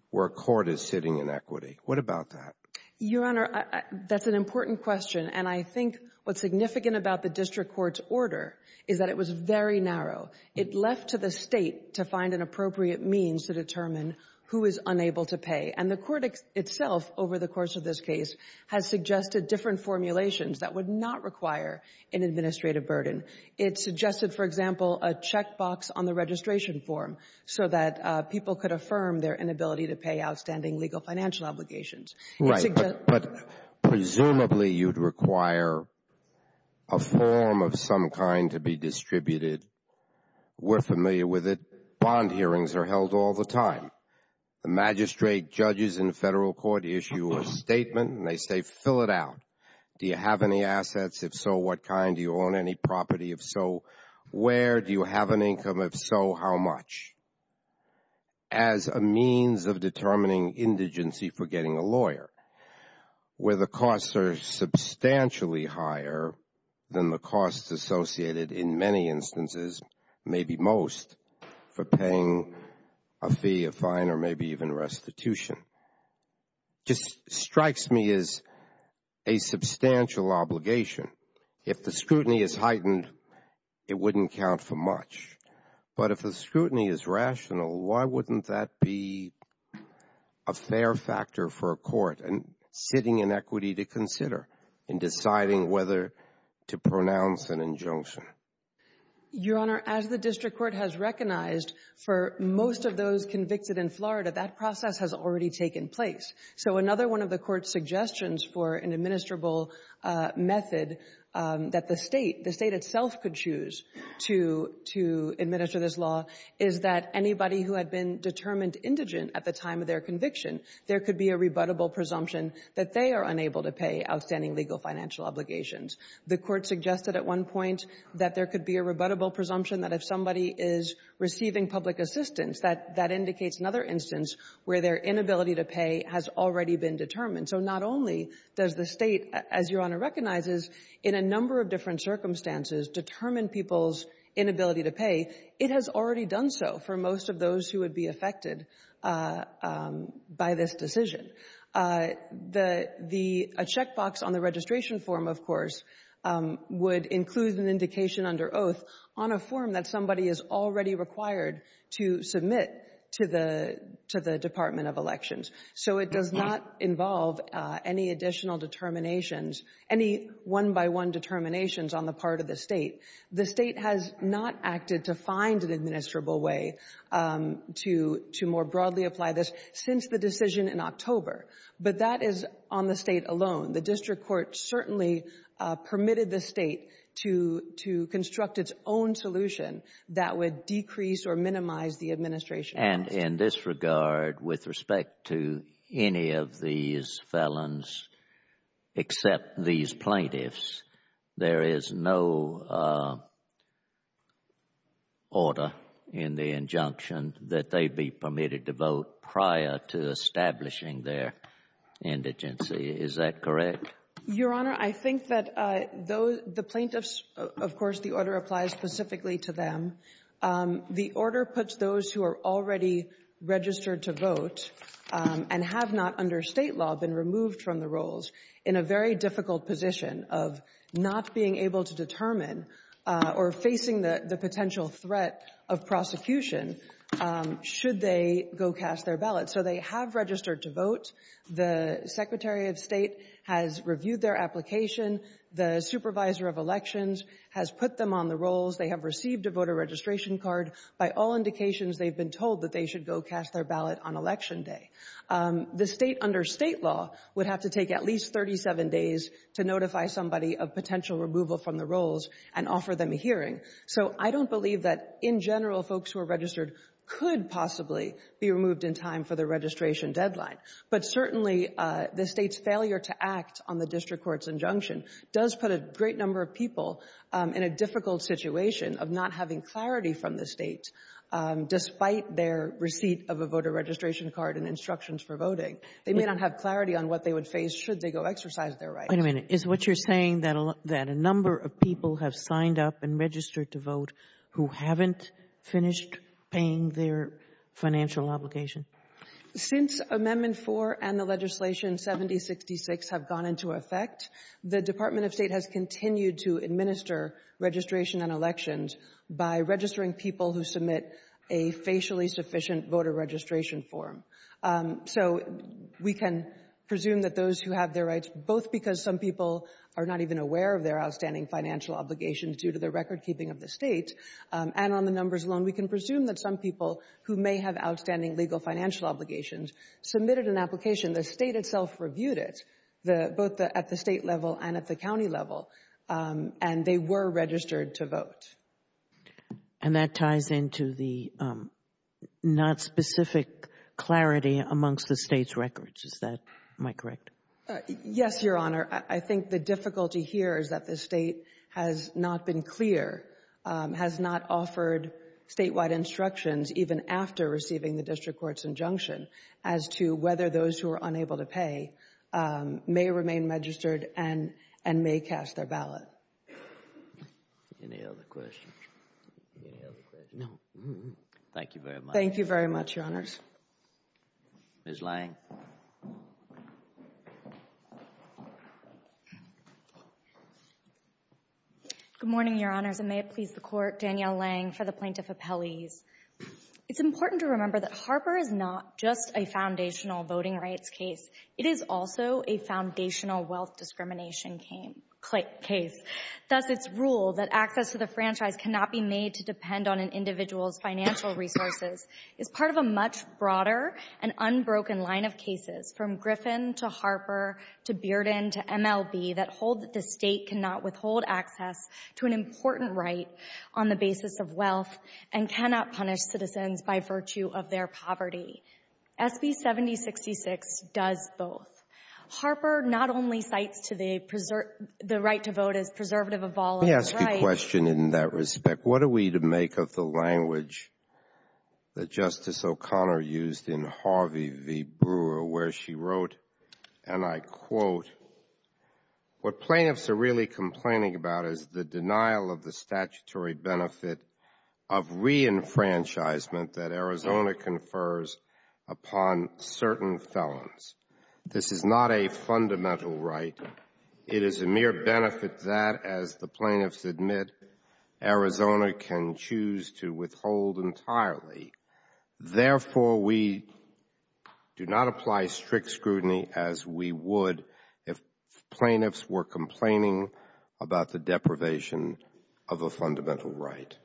where court is sitting in equity. What about that? Your Honor, that's an important question, and I think what's significant about the district court's order is that it was very narrow. It left to the state to find an appropriate means to determine who is unable to pay, and the court itself, over the course of this case, had suggested different formulations that would not require an administrative burden. It suggested, for example, a checkbox on the registration form so that people could affirm their inability to pay outstanding legal financial obligations. Right, but presumably you'd require a form of some kind to be distributed. We're familiar with it. Bond hearings are held all the time. The magistrate judges in federal court issue a statement, and they say, fill it out. Do you have any assets? If so, what kind? Do you own any property? If so, where? Do you have an income? If so, how much? As a means of determining indigency for getting a lawyer, where the costs are substantially higher than the costs associated, in many instances, maybe most, for paying a fee, a fine, or maybe even restitution. Just strikes me as a substantial obligation. If the scrutiny is heightened, it wouldn't count for much. But if the scrutiny is rational, why wouldn't that be a fair factor for a court? Hitting inequity to consider in deciding whether to pronounce an injunction. Your Honor, as the district court has recognized, for most of those convicted in Florida, that process has already taken place. So another one of the court's suggestions for an administrable method that the state, the state itself could choose to administer this law, is that anybody who had been determined indigent at the time of their conviction, there could be a rebuttable presumption that they are unable to pay outstanding legal financial obligations. The court suggested at one point that there could be a rebuttable presumption that if somebody is receiving public assistance, that indicates another instance where their inability to pay has already been determined. So not only does the state, as Your Honor recognizes, in a number of different circumstances determine people's inability to pay, it has already done so for most of those who would be affected by this decision. The – a checkbox on the registration form, of course, would include an indication under oath on a form that somebody is already required to submit to the Department of Elections. So it does not involve any additional determinations, any one-by-one determinations on the part of the state. The state has not acted to find an administrable way to more broadly apply this since the decision in October. But that is on the state alone. The district court certainly permitted the state to construct its own solution that would decrease or minimize the administration. And in this regard, with respect to any of these felons except these plaintiffs, there is no order in the injunction that they be permitted to vote prior to establishing their indigency. Is that correct? Your Honor, I think that those – the plaintiffs – of course, the order applies specifically to them. The order puts those who are already registered to vote and have not under state law been removed from the rolls in a very difficult position of not being able to determine or facing the potential threat of prosecution should they go cast their ballot. So they have registered to vote. The Secretary of State has reviewed their application. The Supervisor of Elections has put them on the rolls. They have received a voter registration card. By all indications, they've been told that they should go cast their ballot on Election Day. The state, under state law, would have to take at least 37 days to notify somebody of potential removal from the rolls and offer them a hearing. So I don't believe that, in general, folks who are registered could possibly be removed in time for the registration deadline. But certainly, the state's failure to act on the district court's injunction does put a great number of people in a difficult situation of not having clarity from the state despite their receipt of a voter registration card and instructions for voting. They may not have clarity on what they would face should they go exercise their right. Wait a minute. Is what you're saying that a number of people have signed up and registered to vote who haven't finished paying their financial obligation? Since Amendment 4 and the legislation 7066 have gone into effect, the Department of State has continued to administer registration and elections by registering people who submit a facially sufficient voter registration form. So we can presume that those who have their rights, both because some people are not even aware of their outstanding financial obligations due to the recordkeeping of the state, and on the numbers alone, we can presume that some people who may have outstanding legal financial obligations submitted an application. The state itself reviewed it, both at the state level and at the county level, and they were registered to vote. And that ties into the not specific clarity amongst the state's records. Is that my correct? Yes, Your Honor. I think the difficulty here is that the state has not been clear, has not offered statewide instructions, even after receiving the district court's injunction, as to whether those who are unable to pay may remain registered and may cast their ballot. Any other questions? Any other questions? Thank you very much. Thank you very much, Your Honors. Ms. Lange? Good morning, Your Honors. And may it please the Court, Danielle Lange for the Plaintiff Appellees. It's important to remember that Harper is not just a foundational voting rights case, it is also a foundational wealth discrimination case. Thus, its rule that access to the franchise cannot be made to depend on an individual's financial resources is part of a much broader and unbroken line of cases, from Griffin to Harper to Bearden to MLB, that hold that the state cannot withhold access to an important right on the basis of wealth and cannot punish citizens by virtue of their poverty. SB 7066 does both. Harper not only cites the right to vote as a preservative of all of its rights— Let me ask you a question in that respect. What are we to make of the language that Justice O'Connor used in Harvey v. Brewer, where she wrote, and I quote, what plaintiffs are really complaining about is the denial of the statutory benefit of re-enfranchisement that Arizona confers upon certain felons. This is not a fundamental right. It is a mere benefit that, as the plaintiffs admit, Arizona can choose to withhold entirely. Therefore, we do not apply strict scrutiny as we would if plaintiffs were complaining about the deprivation of a fundamental right.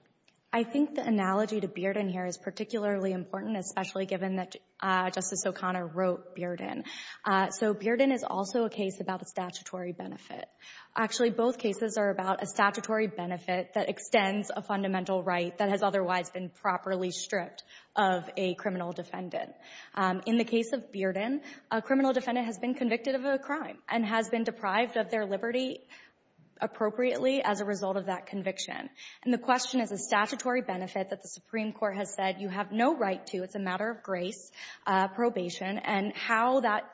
I think the analogy to Bearden here is particularly important, especially given that Justice O'Connor wrote Bearden. Bearden is also a case about a statutory benefit. Actually, both cases are about a statutory benefit that extends a fundamental right that has otherwise been properly stripped of a criminal defendant. In the case of Bearden, a criminal defendant has been convicted of a crime and has been deprived of their liberty appropriately as a result of that conviction. The question of the statutory benefit that the Supreme Court has said you have no right to, it's a matter of grace, probation, and how that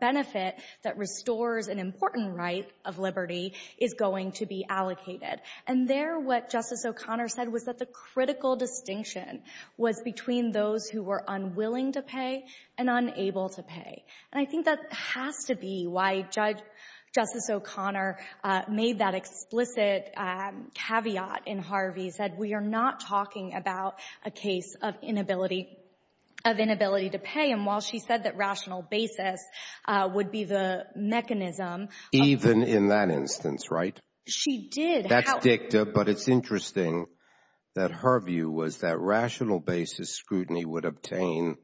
benefit that restores an important right of liberty is going to be allocated. And there, what Justice O'Connor said was that the critical distinction was between those who were unwilling to pay and unable to pay. And I think that has to be why Justice O'Connor made that explicit caveat in Harvey's that we are not talking about a case of inability to pay. And while she said that rational basis would be the mechanism. Even in that instance, right? She did. But it's interesting that her view was that rational basis scrutiny would obtain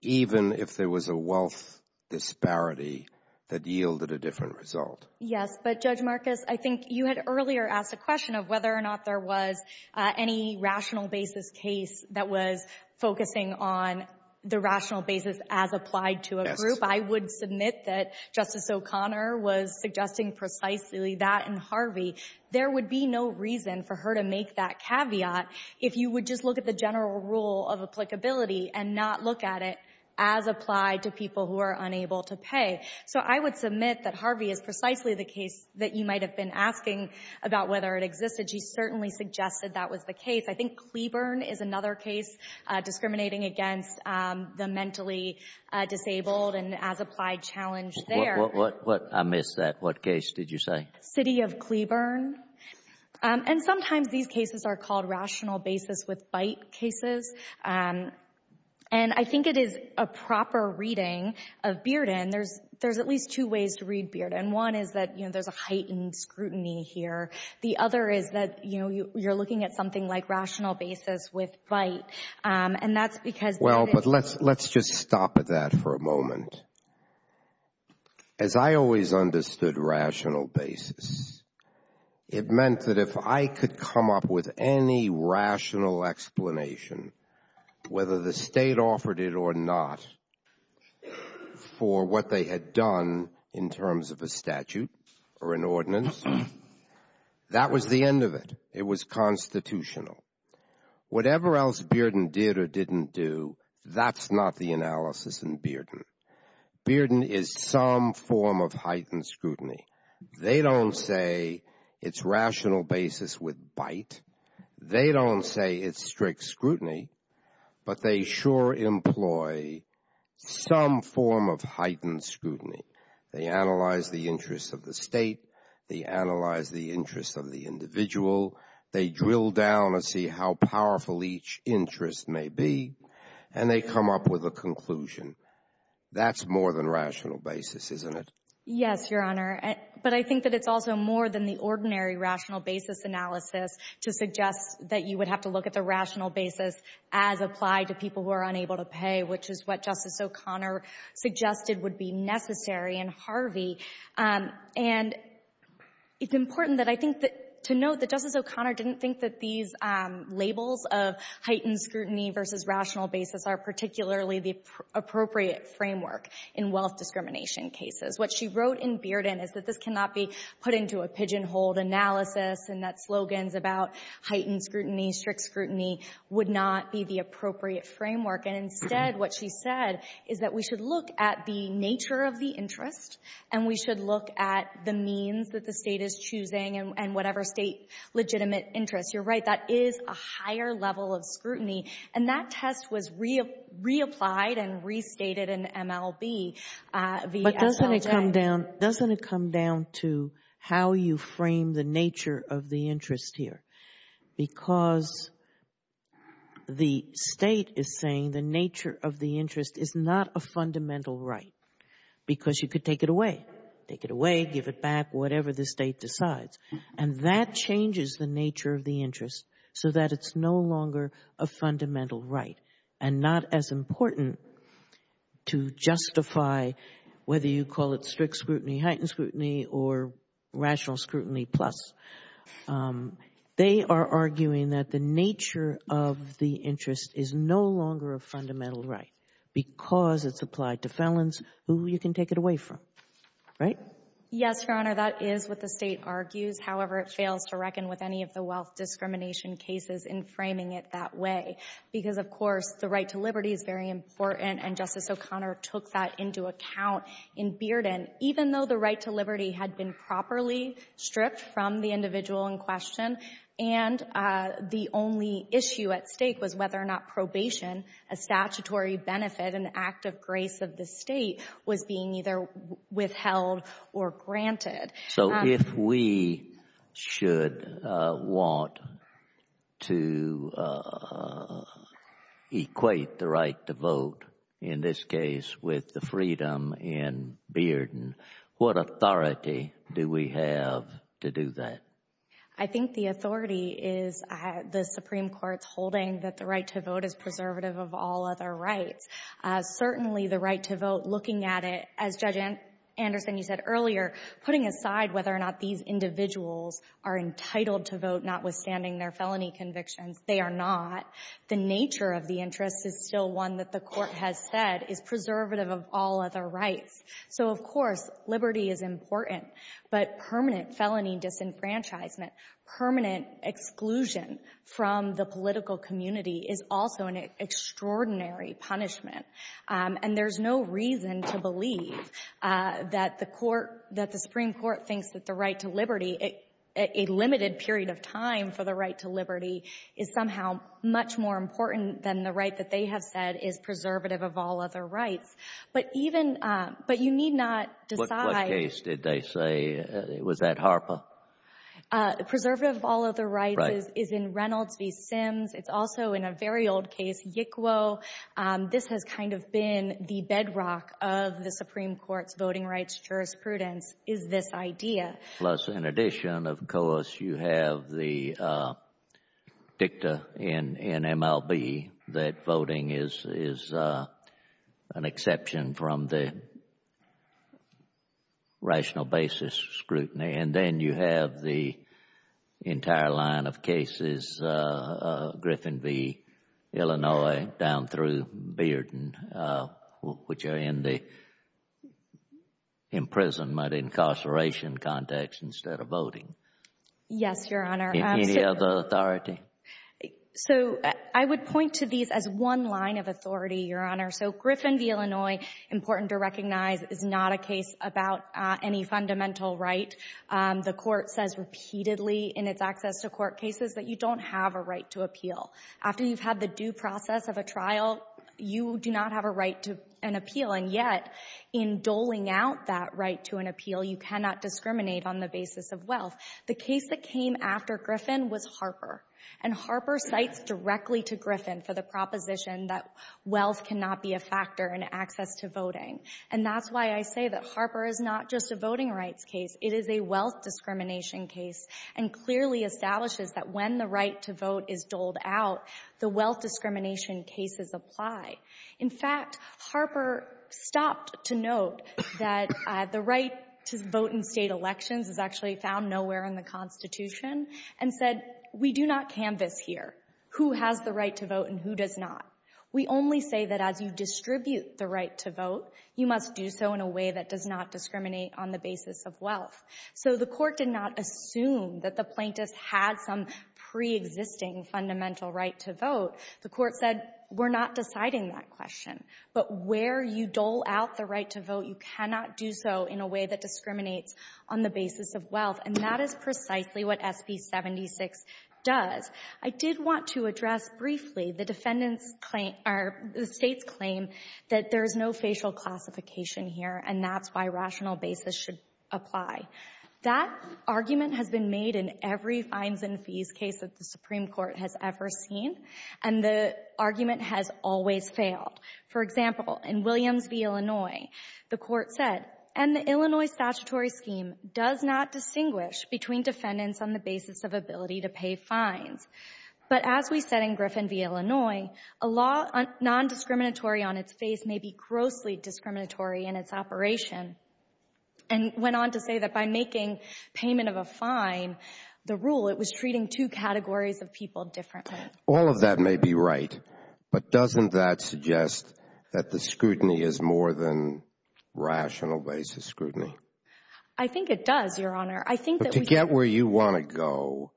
even if there was a wealth disparity that yielded a different result. Yes, but Judge Marcus, I think you had earlier asked the question of whether or not there was any rational basis case that was focusing on the rational basis as applied to a group. I would submit that Justice O'Connor was suggesting precisely that in Harvey. There would be no reason for her to make that caveat if you would just look at the general rule of applicability and not look at it as applied to people who are unable to pay. So I would submit that Harvey is precisely the case that you might have been asking about whether it existed. She certainly suggested that was the case. I think Cleburne is another case discriminating against the mentally disabled and as applied challenge there. I missed that. What case did you say? City of Cleburne. And sometimes these cases are called rational basis with bite cases. And I think it is a proper reading of Bearden. There's at least two ways to read Bearden. One is that there's a heightened scrutiny here. The other is that, you know, you're looking at something like rational basis with bite. And that's because. Well, but let's let's just stop at that for a moment. As I always understood rational basis, it meant that if I could come up with any rational explanation, whether the state offered it or not, for what they had done in terms of a statute or an ordinance, that was the end of it. It was constitutional. Whatever else Bearden did or didn't do, that's not the analysis in Bearden. Bearden is some form of heightened scrutiny. They don't say it's rational basis with bite. They don't say it's strict scrutiny, but they sure employ some form of heightened scrutiny. They analyze the interests of the state. They analyze the interests of the individual. They drill down and see how powerful each interest may be, and they come up with a conclusion. That's more than rational basis, isn't it? Yes, Your Honor. But I think that it's also more than the ordinary rational basis analysis to suggest that you would have to look at the rational basis as applied to people who are unable to pay, which is what and Harvey. It's important to note that Justice O'Connor didn't think that these labels of heightened scrutiny versus rational basis are particularly the appropriate framework in wealth discrimination cases. What she wrote in Bearden is that this cannot be put into a pigeonhole analysis and that slogans about heightened scrutiny, strict scrutiny would not be the appropriate framework. Instead, what she said is that we should look at the nature of the interest and we should look at the means that the state is choosing and whatever state's legitimate interest. You're right. That is a higher level of scrutiny, and that test was reapplied and restated in MLB. Doesn't it come down to how you frame the nature of the interest here? Because the state is saying the nature of the interest is not a fundamental right because you could take it away. Take it away, give it back, whatever the state decides, and that changes the nature of the interest so that it's no longer a fundamental right and not as important to justify whether you call it strict scrutiny, heightened scrutiny or rational scrutiny plus. Um, they are arguing that the nature of the interest is no longer a fundamental right because it's applied to felons who you can take it away from, right? Yes, Your Honor. That is what the state argues. However, it fails to reckon with any of the wealth discrimination cases in framing it that way because, of course, the right to liberty is very important and Justice O'Connor took that into account in Bearden, even though the right to liberty had been properly stripped from the individual in question and the only issue at stake was whether or not probation, a statutory benefit, an act of grace of the state was being either withheld or granted. So if we should want to equate the right to vote in this case with the freedom in Bearden, what authority do we have to do that? I think the authority is the Supreme Court's holding that the right to vote is preservative of all other rights. Certainly the right to vote, looking at it, as Judge Anderson said earlier, putting aside whether or not these individuals are entitled to vote notwithstanding their felony convictions, they are not. The nature of the interest is still one that the court has said is preservative of all other rights. So, of course, liberty is important, but permanent felony disenfranchisement, permanent exclusion from the political community is also an extraordinary punishment. And there's no reason to believe that the court, that the Supreme Court thinks that the right to liberty, a limited period of time for the right to liberty, is somehow much more important than the right that they have said is preservative of all other rights. But even, but you need not decide. What case did they say, was that Harper? Preservative of all other rights is in Reynolds v. Sims. It's also in a very old case, Yickwo. This has kind of been the bedrock of the Supreme Court voting rights jurisprudence is this idea. Plus, in addition, of course, you have the dicta in MLB that voting is an exception from the rational basis scrutiny. And then you have the entire line of cases, Griffin v. Illinois, down through Bearden, which are in the imprisonment, incarceration context instead of voting. Yes, Your Honor. Any other authority? So I would point to these as one line of authority, Your Honor. So Griffin v. Illinois, important to recognize, is not a case about any fundamental right. The court says repeatedly in its access to court cases that you don't have a right to appeal. After you've had the due process of a trial, you do not have a right to an appeal. And yet, in doling out that right to an appeal, you cannot discriminate on the basis of wealth. The case that came after Griffin was Harper. And Harper cites directly to Griffin for the proposition that wealth cannot be a factor in access to voting. And that's why I say that Harper is not just a voting rights case. It is a wealth discrimination case and clearly establishes that when the right to vote is doled out, the wealth discrimination cases apply. In fact, Harper stopped to note that the right to vote in state elections is actually found nowhere in the Constitution and said, we do not canvass here who has the right to vote and who does not. We only say that as you distribute the right to vote, you must do so in a way that does not discriminate on the basis of wealth. So the court did not assume that the plaintiff had some pre-existing fundamental right to vote. The court said, we're not deciding that question. But where you dole out the right to vote, you cannot do so in a way that discriminates on the basis of wealth. And that is precisely what SC-76 does. I did want to address briefly the defendant's claim or the state's claim that there is no facial classification here. And that's why rational basis should apply. That argument has been made in every fines and fees case that the Supreme Court has ever seen. And the argument has always failed. For example, in Williams v. Illinois, the court said, and the Illinois statutory scheme does not distinguish between defendants on the basis of ability to pay fines. But as we said in Griffin v. Corporation, and went on to say that by making payment of a fine the rule, it was treating two categories of people differently. All of that may be right. But doesn't that suggest that the scrutiny is more than rational basis scrutiny? I think it does, Your Honor. I think that we get where you want to go.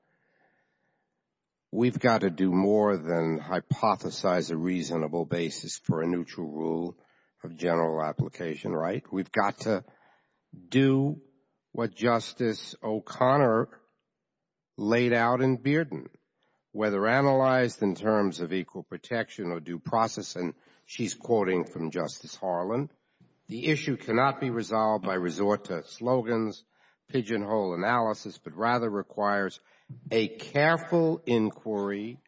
We've got to do more than hypothesize a reasonable basis for a neutral rule of general application, right? We've got to do what Justice O'Connor laid out in Bearden. Whether analyzed in terms of equal protection or due process, and she's quoting from Justice Harlan, the issue cannot be resolved by resort to slogans, pigeonhole analysis, but rather requires a careful inquiry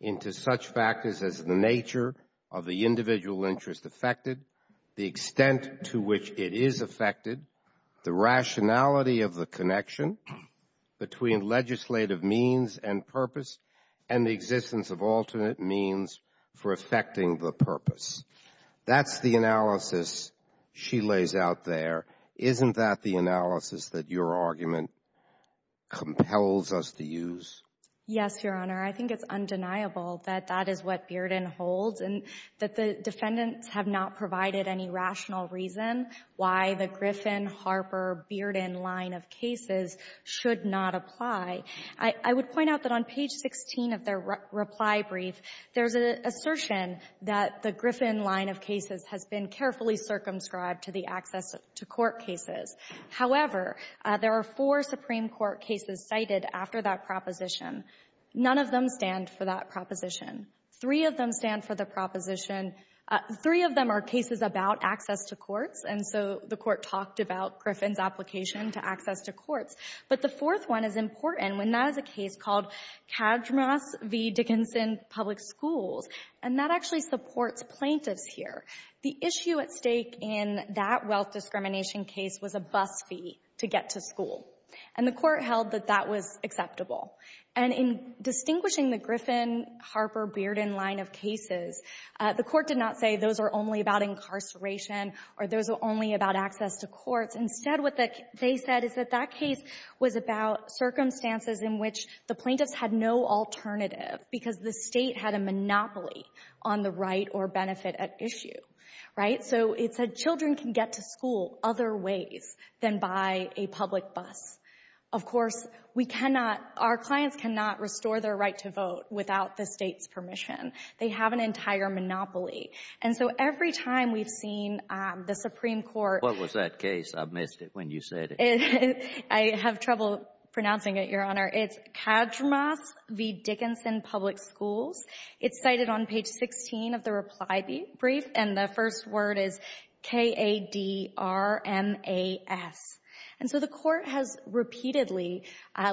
into such factors as the nature of the individual interest affected, the extent to which it is affected, the rationality of the connection between legislative means and purpose, and the existence of alternate means for affecting the purpose. That's the analysis she lays out there. Isn't that the analysis that your argument compels us to use? Yes, Your Honor. I think it's undeniable that that is what Bearden holds and that the defendants have not provided any rational reason why the Griffin, Harper, Bearden line of cases should not apply. I would point out that on page 16 of their reply brief, there's an assertion that the Griffin line of cases has been carefully circumscribed to the access to court cases. However, there are four Supreme Court cases cited after that proposition. None of them stand for that proposition. Three of them stand for the proposition. Three of them are cases about access to courts, and so the court talked about Griffin's application to access to courts, but the fourth one is important, and that is a case called Kajmas v. Dickinson's Public Schools, and that actually supports plaintiffs here. The issue at stake in that wealth discrimination case was a bus fee to get to school, and the distinguishing the Griffin, Harper, Bearden line of cases, the court did not say those are only about incarceration or those are only about access to courts. Instead, what they said is that that case was about circumstances in which the plaintiffs had no alternative because the state had a monopoly on the right or benefit at issue. So it said children can get to school other ways than by a public bus. Of course, we cannot, our clients cannot restore their right to vote without the state's permission. They have an entire monopoly, and so every time we've seen the Supreme Court. What was that case? I missed it when you said it. I have trouble pronouncing it, Your Honor. It's Kajmas v. Dickinson Public Schools. It's cited on page 16 of the reply brief, and the first word is K-A-D-R-M-A-S, and so the court has repeatedly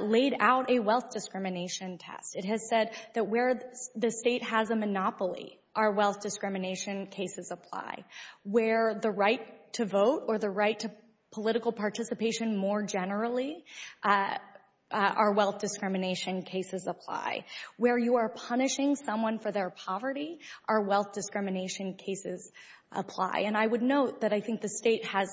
laid out a wealth discrimination test. It has said that where the state has a monopoly, our wealth discrimination cases apply. Where the right to vote or the right to political participation more generally, our wealth discrimination cases apply. Where you are punishing someone for their poverty, our wealth discrimination cases apply, and I would note that I think the state has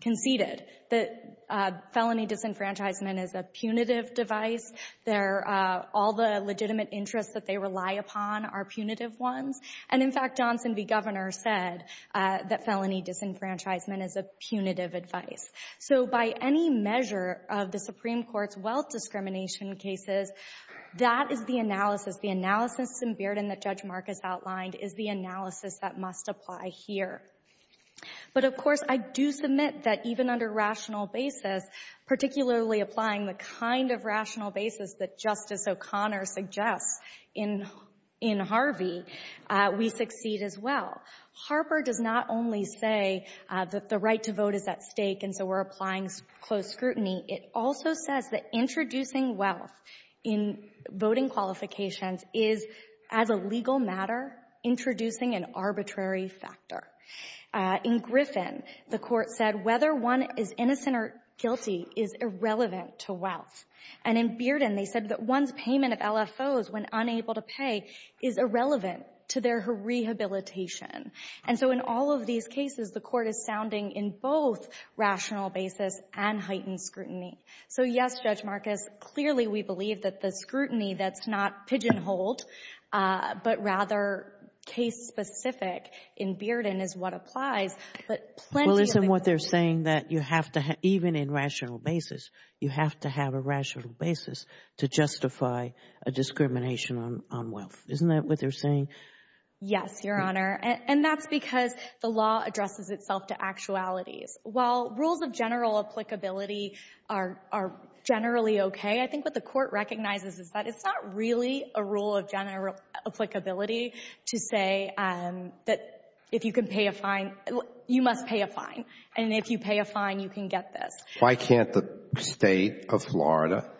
conceded that felony disenfranchisement is a punitive device. They're, all the legitimate interests that they rely upon are punitive ones, and in fact, Johnson v. Governor said that felony disenfranchisement is a punitive advice. So by any measure of the Supreme Court's wealth discrimination cases, that is the analysis, the analysis in Bearden that Judge Mark has outlined is the analysis that must apply here. But of course, I do submit that even under rational basis, particularly applying the kind of rational basis that Justice O'Connor suggests in Harvey, we succeed as well. Harper does not only say that the right to vote is at stake, and so we're applying closed scrutiny. It also says that introducing wealth in voting qualifications is, as a legal matter, introducing an arbitrary factor. In Griffin, the court said whether one is innocent or guilty is irrelevant to wealth. And in Bearden, they said that one's payment of LFOs when unable to pay is irrelevant to their rehabilitation. And so in all of these cases, the court is sounding in both rational basis and heightened scrutiny. So yes, Judge Marcus, clearly we believe that the scrutiny that's not pigeonholed, but rather case-specific in Bearden is what applies. But plenty of examples- Well, isn't what they're saying that you have to, even in rational basis, you have to have a rational basis to justify a discrimination on wealth. Isn't that what they're saying? Yes, Your Honor. And that's because the law addresses itself to actualities. While rules of general applicability are generally okay, I think what the court recognizes is that it's not really a rule of general applicability to say that if you can pay a fine, you must pay a fine. And if you pay a fine, you can get this. Why can't the state of Florida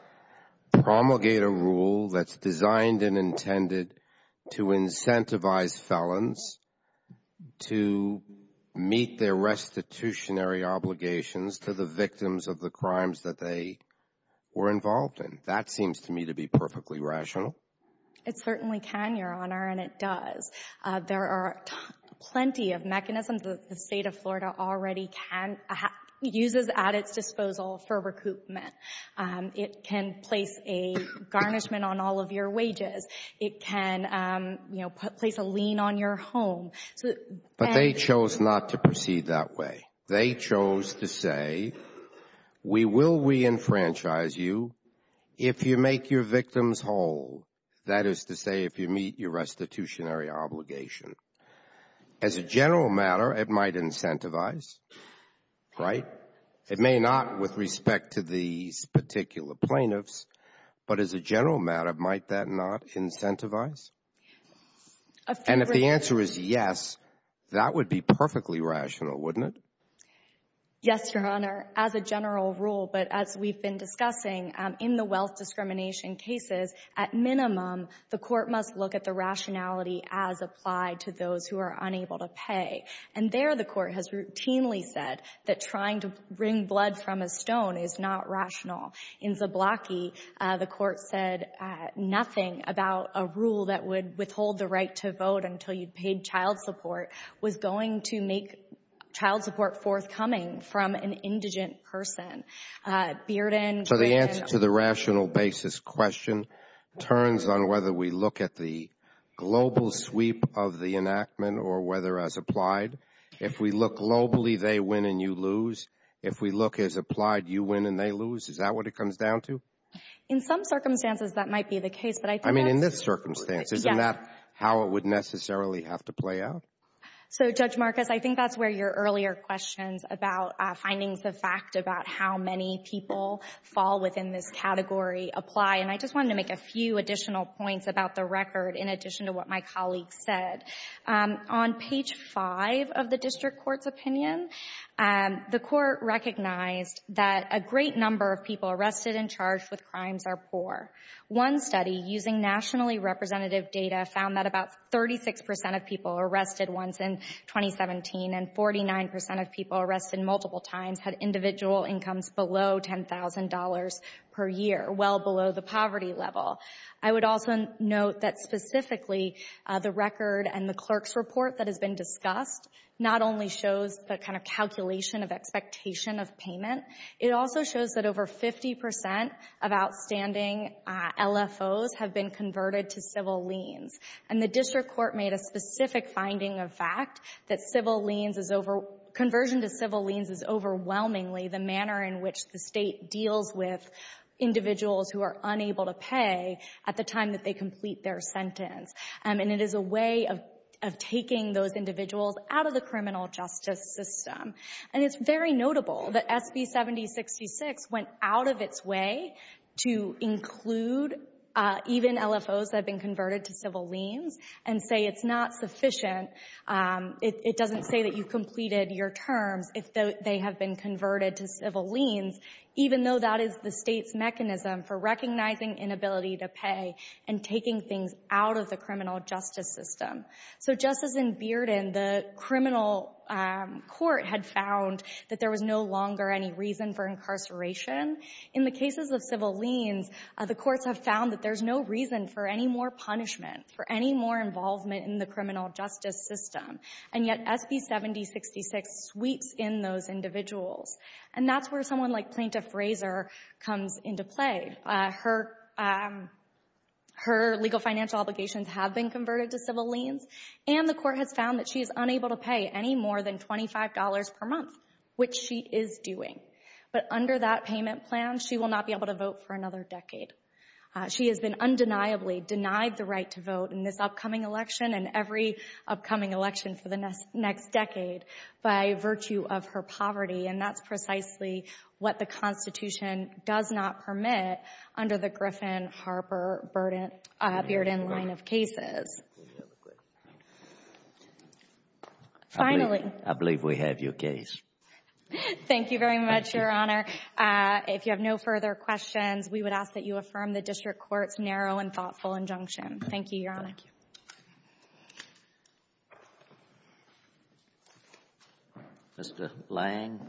promulgate a rule that's designed and intended to incentivize felons to meet their restitutionary obligations to the victims of the crimes that they were involved in? That seems to me to be perfectly rational. It certainly can, Your Honor, and it does. There are plenty of mechanisms that the state of Florida already uses at its disposal for recoupment. It can place a garnishment on all of your wages. It can place a lien on your home. But they chose not to proceed that way. They chose to say, we will re-enfranchise you if you make your victims whole. That is to say, if you meet your restitutionary obligation. As a general matter, it might incentivize, right? It may not with respect to the particular plaintiffs, but as a general matter, might that not incentivize? And if the answer is yes, that would be perfectly rational, wouldn't it? Yes, Your Honor, as a general rule. But as we've been discussing, in the wealth discrimination cases, at minimum, the court must look at the rationality as applied to those who are unable to pay. And there the court has routinely said that trying to bring blood from a stone is not rational. In Zablocki, the court said nothing about a rule that would withhold the right to vote until you paid child support was going to make child support forthcoming from an indigent person. So the answer to the rational basis question turns on whether we look at the global sweep of the enactment or whether as applied. If we look globally, they win and you lose. If we look as applied, you win and they lose. Is that what it comes down to? In some circumstances, that might be the case. I mean, in this circumstance, isn't that how it would necessarily have to play out? So Judge Marcus, I think that's where your earlier questions about finding the fact about how many people fall within this category apply. And I just wanted to make a few additional points about the record in addition to what my colleague said. On page 5 of the district court's opinion, the court recognized that a great number of people arrested and charged with crimes are poor. One study using nationally representative data found that about 36% of people arrested once in 2017 and 49% of people arrested multiple times had individual incomes below $10,000 per year, well below the poverty level. I would also note that specifically the record and the clerk's report that has been discussed not only shows the kind of calculation of expectation of payment, it also shows that over 50% of outstanding LFOs have been converted to civil liens. And the district court made a specific finding of fact that conversion to civil liens is overwhelmingly the manner in which the state deals with individuals who are unable to pay at the time that they complete their sentence. And it is a way of taking those individuals out of the criminal justice system. And it's very notable that SB 7066 went out of its way to include even LFOs that have been converted to civil liens and say it's not sufficient, it doesn't say that you completed your term if they have been converted to civil liens, even though that is the state's mechanism for recognizing inability to pay and taking things out of the criminal justice system. So just as in Bearden, the criminal court had found that there was no longer any reason for incarceration, in the cases of civil liens, the courts have found that there's no reason for any more punishment, for any more involvement in the criminal justice system. And yet SB 7066 sweeps in those individuals. And that's where someone like Plaintiff Fraser comes into play. Her legal financial obligations have been converted to civil liens and the court has found that she is unable to pay any more than $25 per month, which she is doing. But under that payment plan, she will not be able to vote for another decade. She has been undeniably denied the right to vote in this upcoming election and every upcoming election for the next decade by virtue of her poverty, and that's precisely what the Constitution does not permit under the Griffin-Harper-Bearden line of cases. Finally... I believe we have your case. Thank you very much, Your Honor. If you have no further questions, we would ask that you affirm the District Court's narrow and thoughtful injunction. Thank you, Your Honor. Mr. Lang?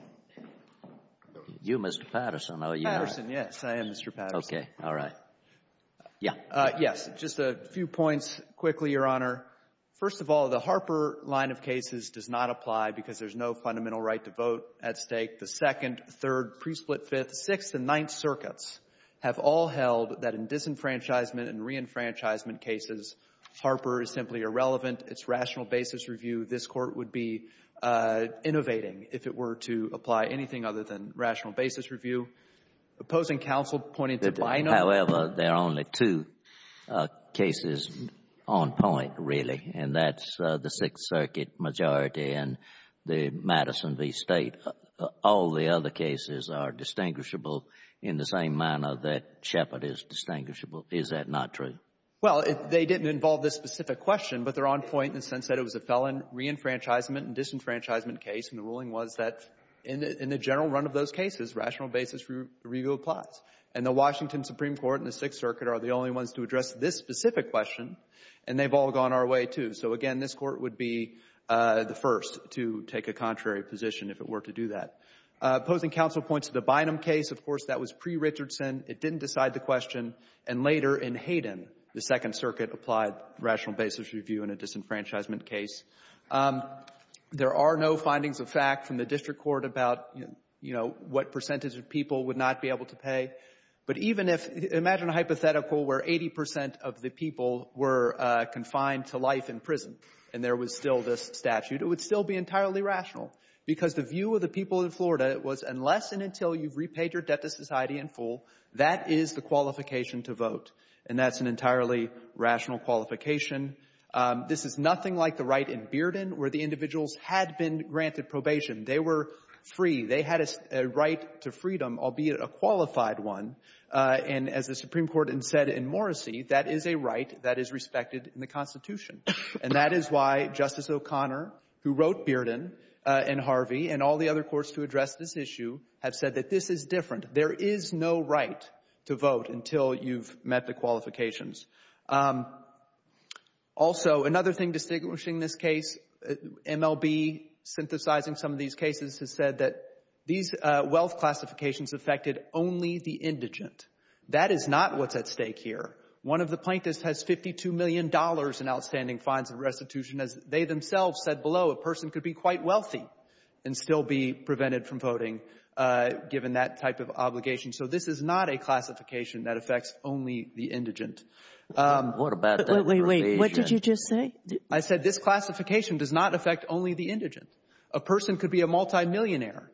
You, Mr. Patterson, are you... Patterson, yes, I am Mr. Patterson. Okay, all right. Yeah. Yes, just a few points quickly, Your Honor. First of all, the Harper line of cases does not apply because there's no fundamental right to vote at stake. The second, third, pre-split fifth, sixth, and ninth circuits have all held that in disenfranchisement and re-enfranchisement cases, Harper is simply irrelevant. It's rational basis review. This Court would be innovating if it were to apply anything other than rational basis review. Opposing counsel pointed... However, there are only two cases on point, really, and that's the Sixth Circuit majority and the Madison v. State. All the other cases are distinguishable in the same manner that Shepard is distinguishable. Is that not true? Well, they didn't involve this specific question, but they're on point in the sense that it was a felon re-enfranchisement and disenfranchisement case, and the ruling was that in the general run of those cases, rational basis review applies. And the Washington Supreme Court and the Sixth Circuit are the only ones to address this specific question, and they've all gone our way, too. Again, this Court would be the first to take a contrary position if it were to do that. Opposing counsel points to the Bynum case. Of course, that was pre-Richardson. It didn't decide the question, and later in Hayden, the Second Circuit applied rational basis review in a disenfranchisement case. There are no findings of fact from the District Court about what percentage of people would not be able to pay, but even if... And there was still this statute. It would still be entirely rational, because the view of the people in Florida was unless and until you repaid your debt to society in full, that is the qualification to vote, and that's an entirely rational qualification. This is nothing like the right in Bearden, where the individuals had been granted probation. They were free. They had a right to freedom, albeit a qualified one, and as the Supreme Court had said in Morrissey, that is a right that is respected in the Constitution. That is why Justice O'Connor, who wrote Bearden, and Harvey, and all the other courts who addressed this issue have said that this is different. There is no right to vote until you've met the qualifications. Also, another thing distinguishing this case, MLB synthesizing some of these cases has said that these wealth classifications affected only the indigent. That is not what's at stake here. One of the plaintiffs has $52 million in outstanding fines and restitution. As they themselves said below, a person could be quite wealthy and still be prevented from voting, given that type of obligation. So this is not a classification that affects only the indigent. What about... Wait, wait, wait. What did you just say? I said this classification does not affect only the indigent. A person could be a multimillionaire,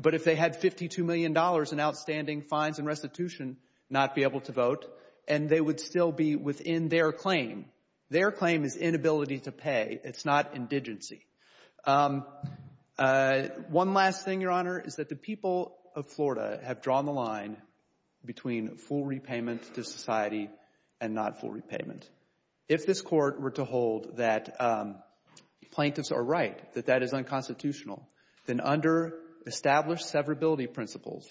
but if they had $52 million in outstanding fines and restitution, not be able to vote, and they would still be within their claim. Their claim is inability to pay. It's not indigency. One last thing, Your Honor, is that the people of Florida have drawn the line between full repayment to society and not full repayment. If this court were to hold that plaintiffs are right, that that is unconstitutional, then under established severability principles,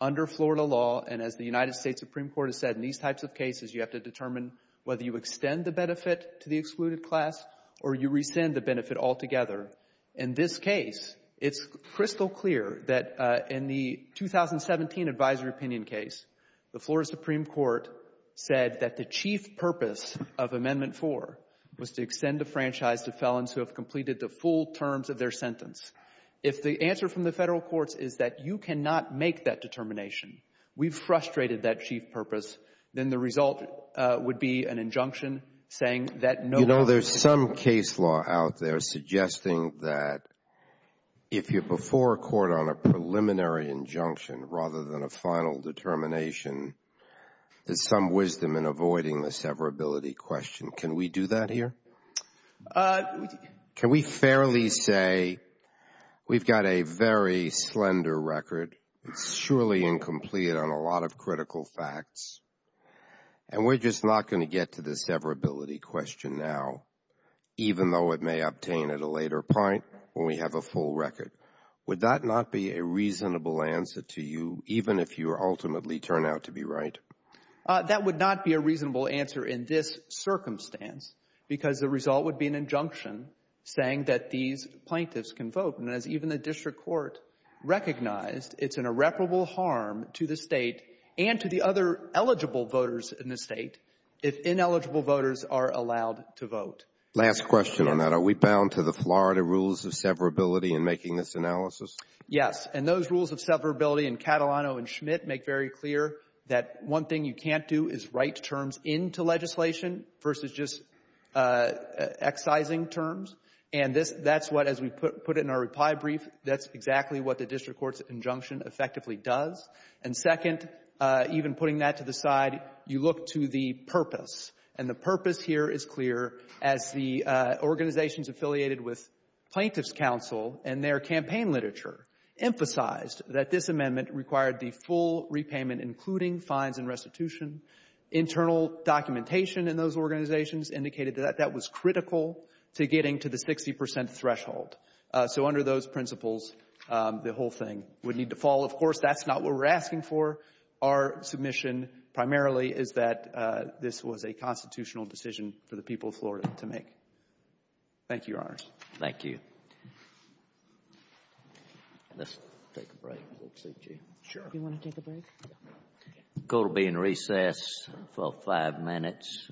under Florida law, and as the United States Supreme Court has said, in these types of cases, you have to determine whether you extend the benefit to the excluded class or you rescind the benefit altogether. In this case, it's crystal clear that in the 2017 advisory opinion case, the Florida Supreme Court said that the chief purpose of Amendment 4 was to extend the franchise to felons who have completed the full terms of their sentence. If the answer from the federal courts is that you cannot make that determination, we've frustrated that chief purpose, then the result would be an injunction saying that no— You know, there's some case law out there suggesting that if you're before a court on a preliminary injunction rather than a final determination, there's some wisdom in avoiding the severability question. Can we do that here? Can we fairly say we've got a very slender record, surely incomplete on a lot of critical facts, and we're just not going to get to the severability question now, even though it may obtain at a later point when we have a full record? Would that not be a reasonable answer to you, even if you ultimately turn out to be right? That would not be a reasonable answer in this circumstance because the result would be an injunction saying that these plaintiffs can vote, and even the district court recognized it's an irreparable harm to the state and to the other eligible voters in the state if ineligible voters are allowed to vote. Last question on that. Are we bound to the Florida rules of severability in making this analysis? Yes, and those rules of severability in Catalano and Schmidt make very clear that one thing you can't do is write terms into legislation versus just excising terms, and that's what as we put it in our reply brief, that's exactly what the district court's injunction effectively does. And second, even putting that to the side, you look to the purpose, and the purpose here is clear as the organizations affiliated with Plaintiff's Council and their campaign literature emphasized that this amendment required the full repayment, including fines and restitution. Internal documentation in those organizations indicated that that was critical to getting to the 60% threshold. So under those principles, the whole thing would need to fall. Of course, that's not what we're asking for. Our submission primarily is that this was a constitutional decision for the people of Florida to make. Thank you, Your Honors. Thank you. Let's take a break. If that suits you. Sure. Do you want to take a break? Go to being recessed for five minutes.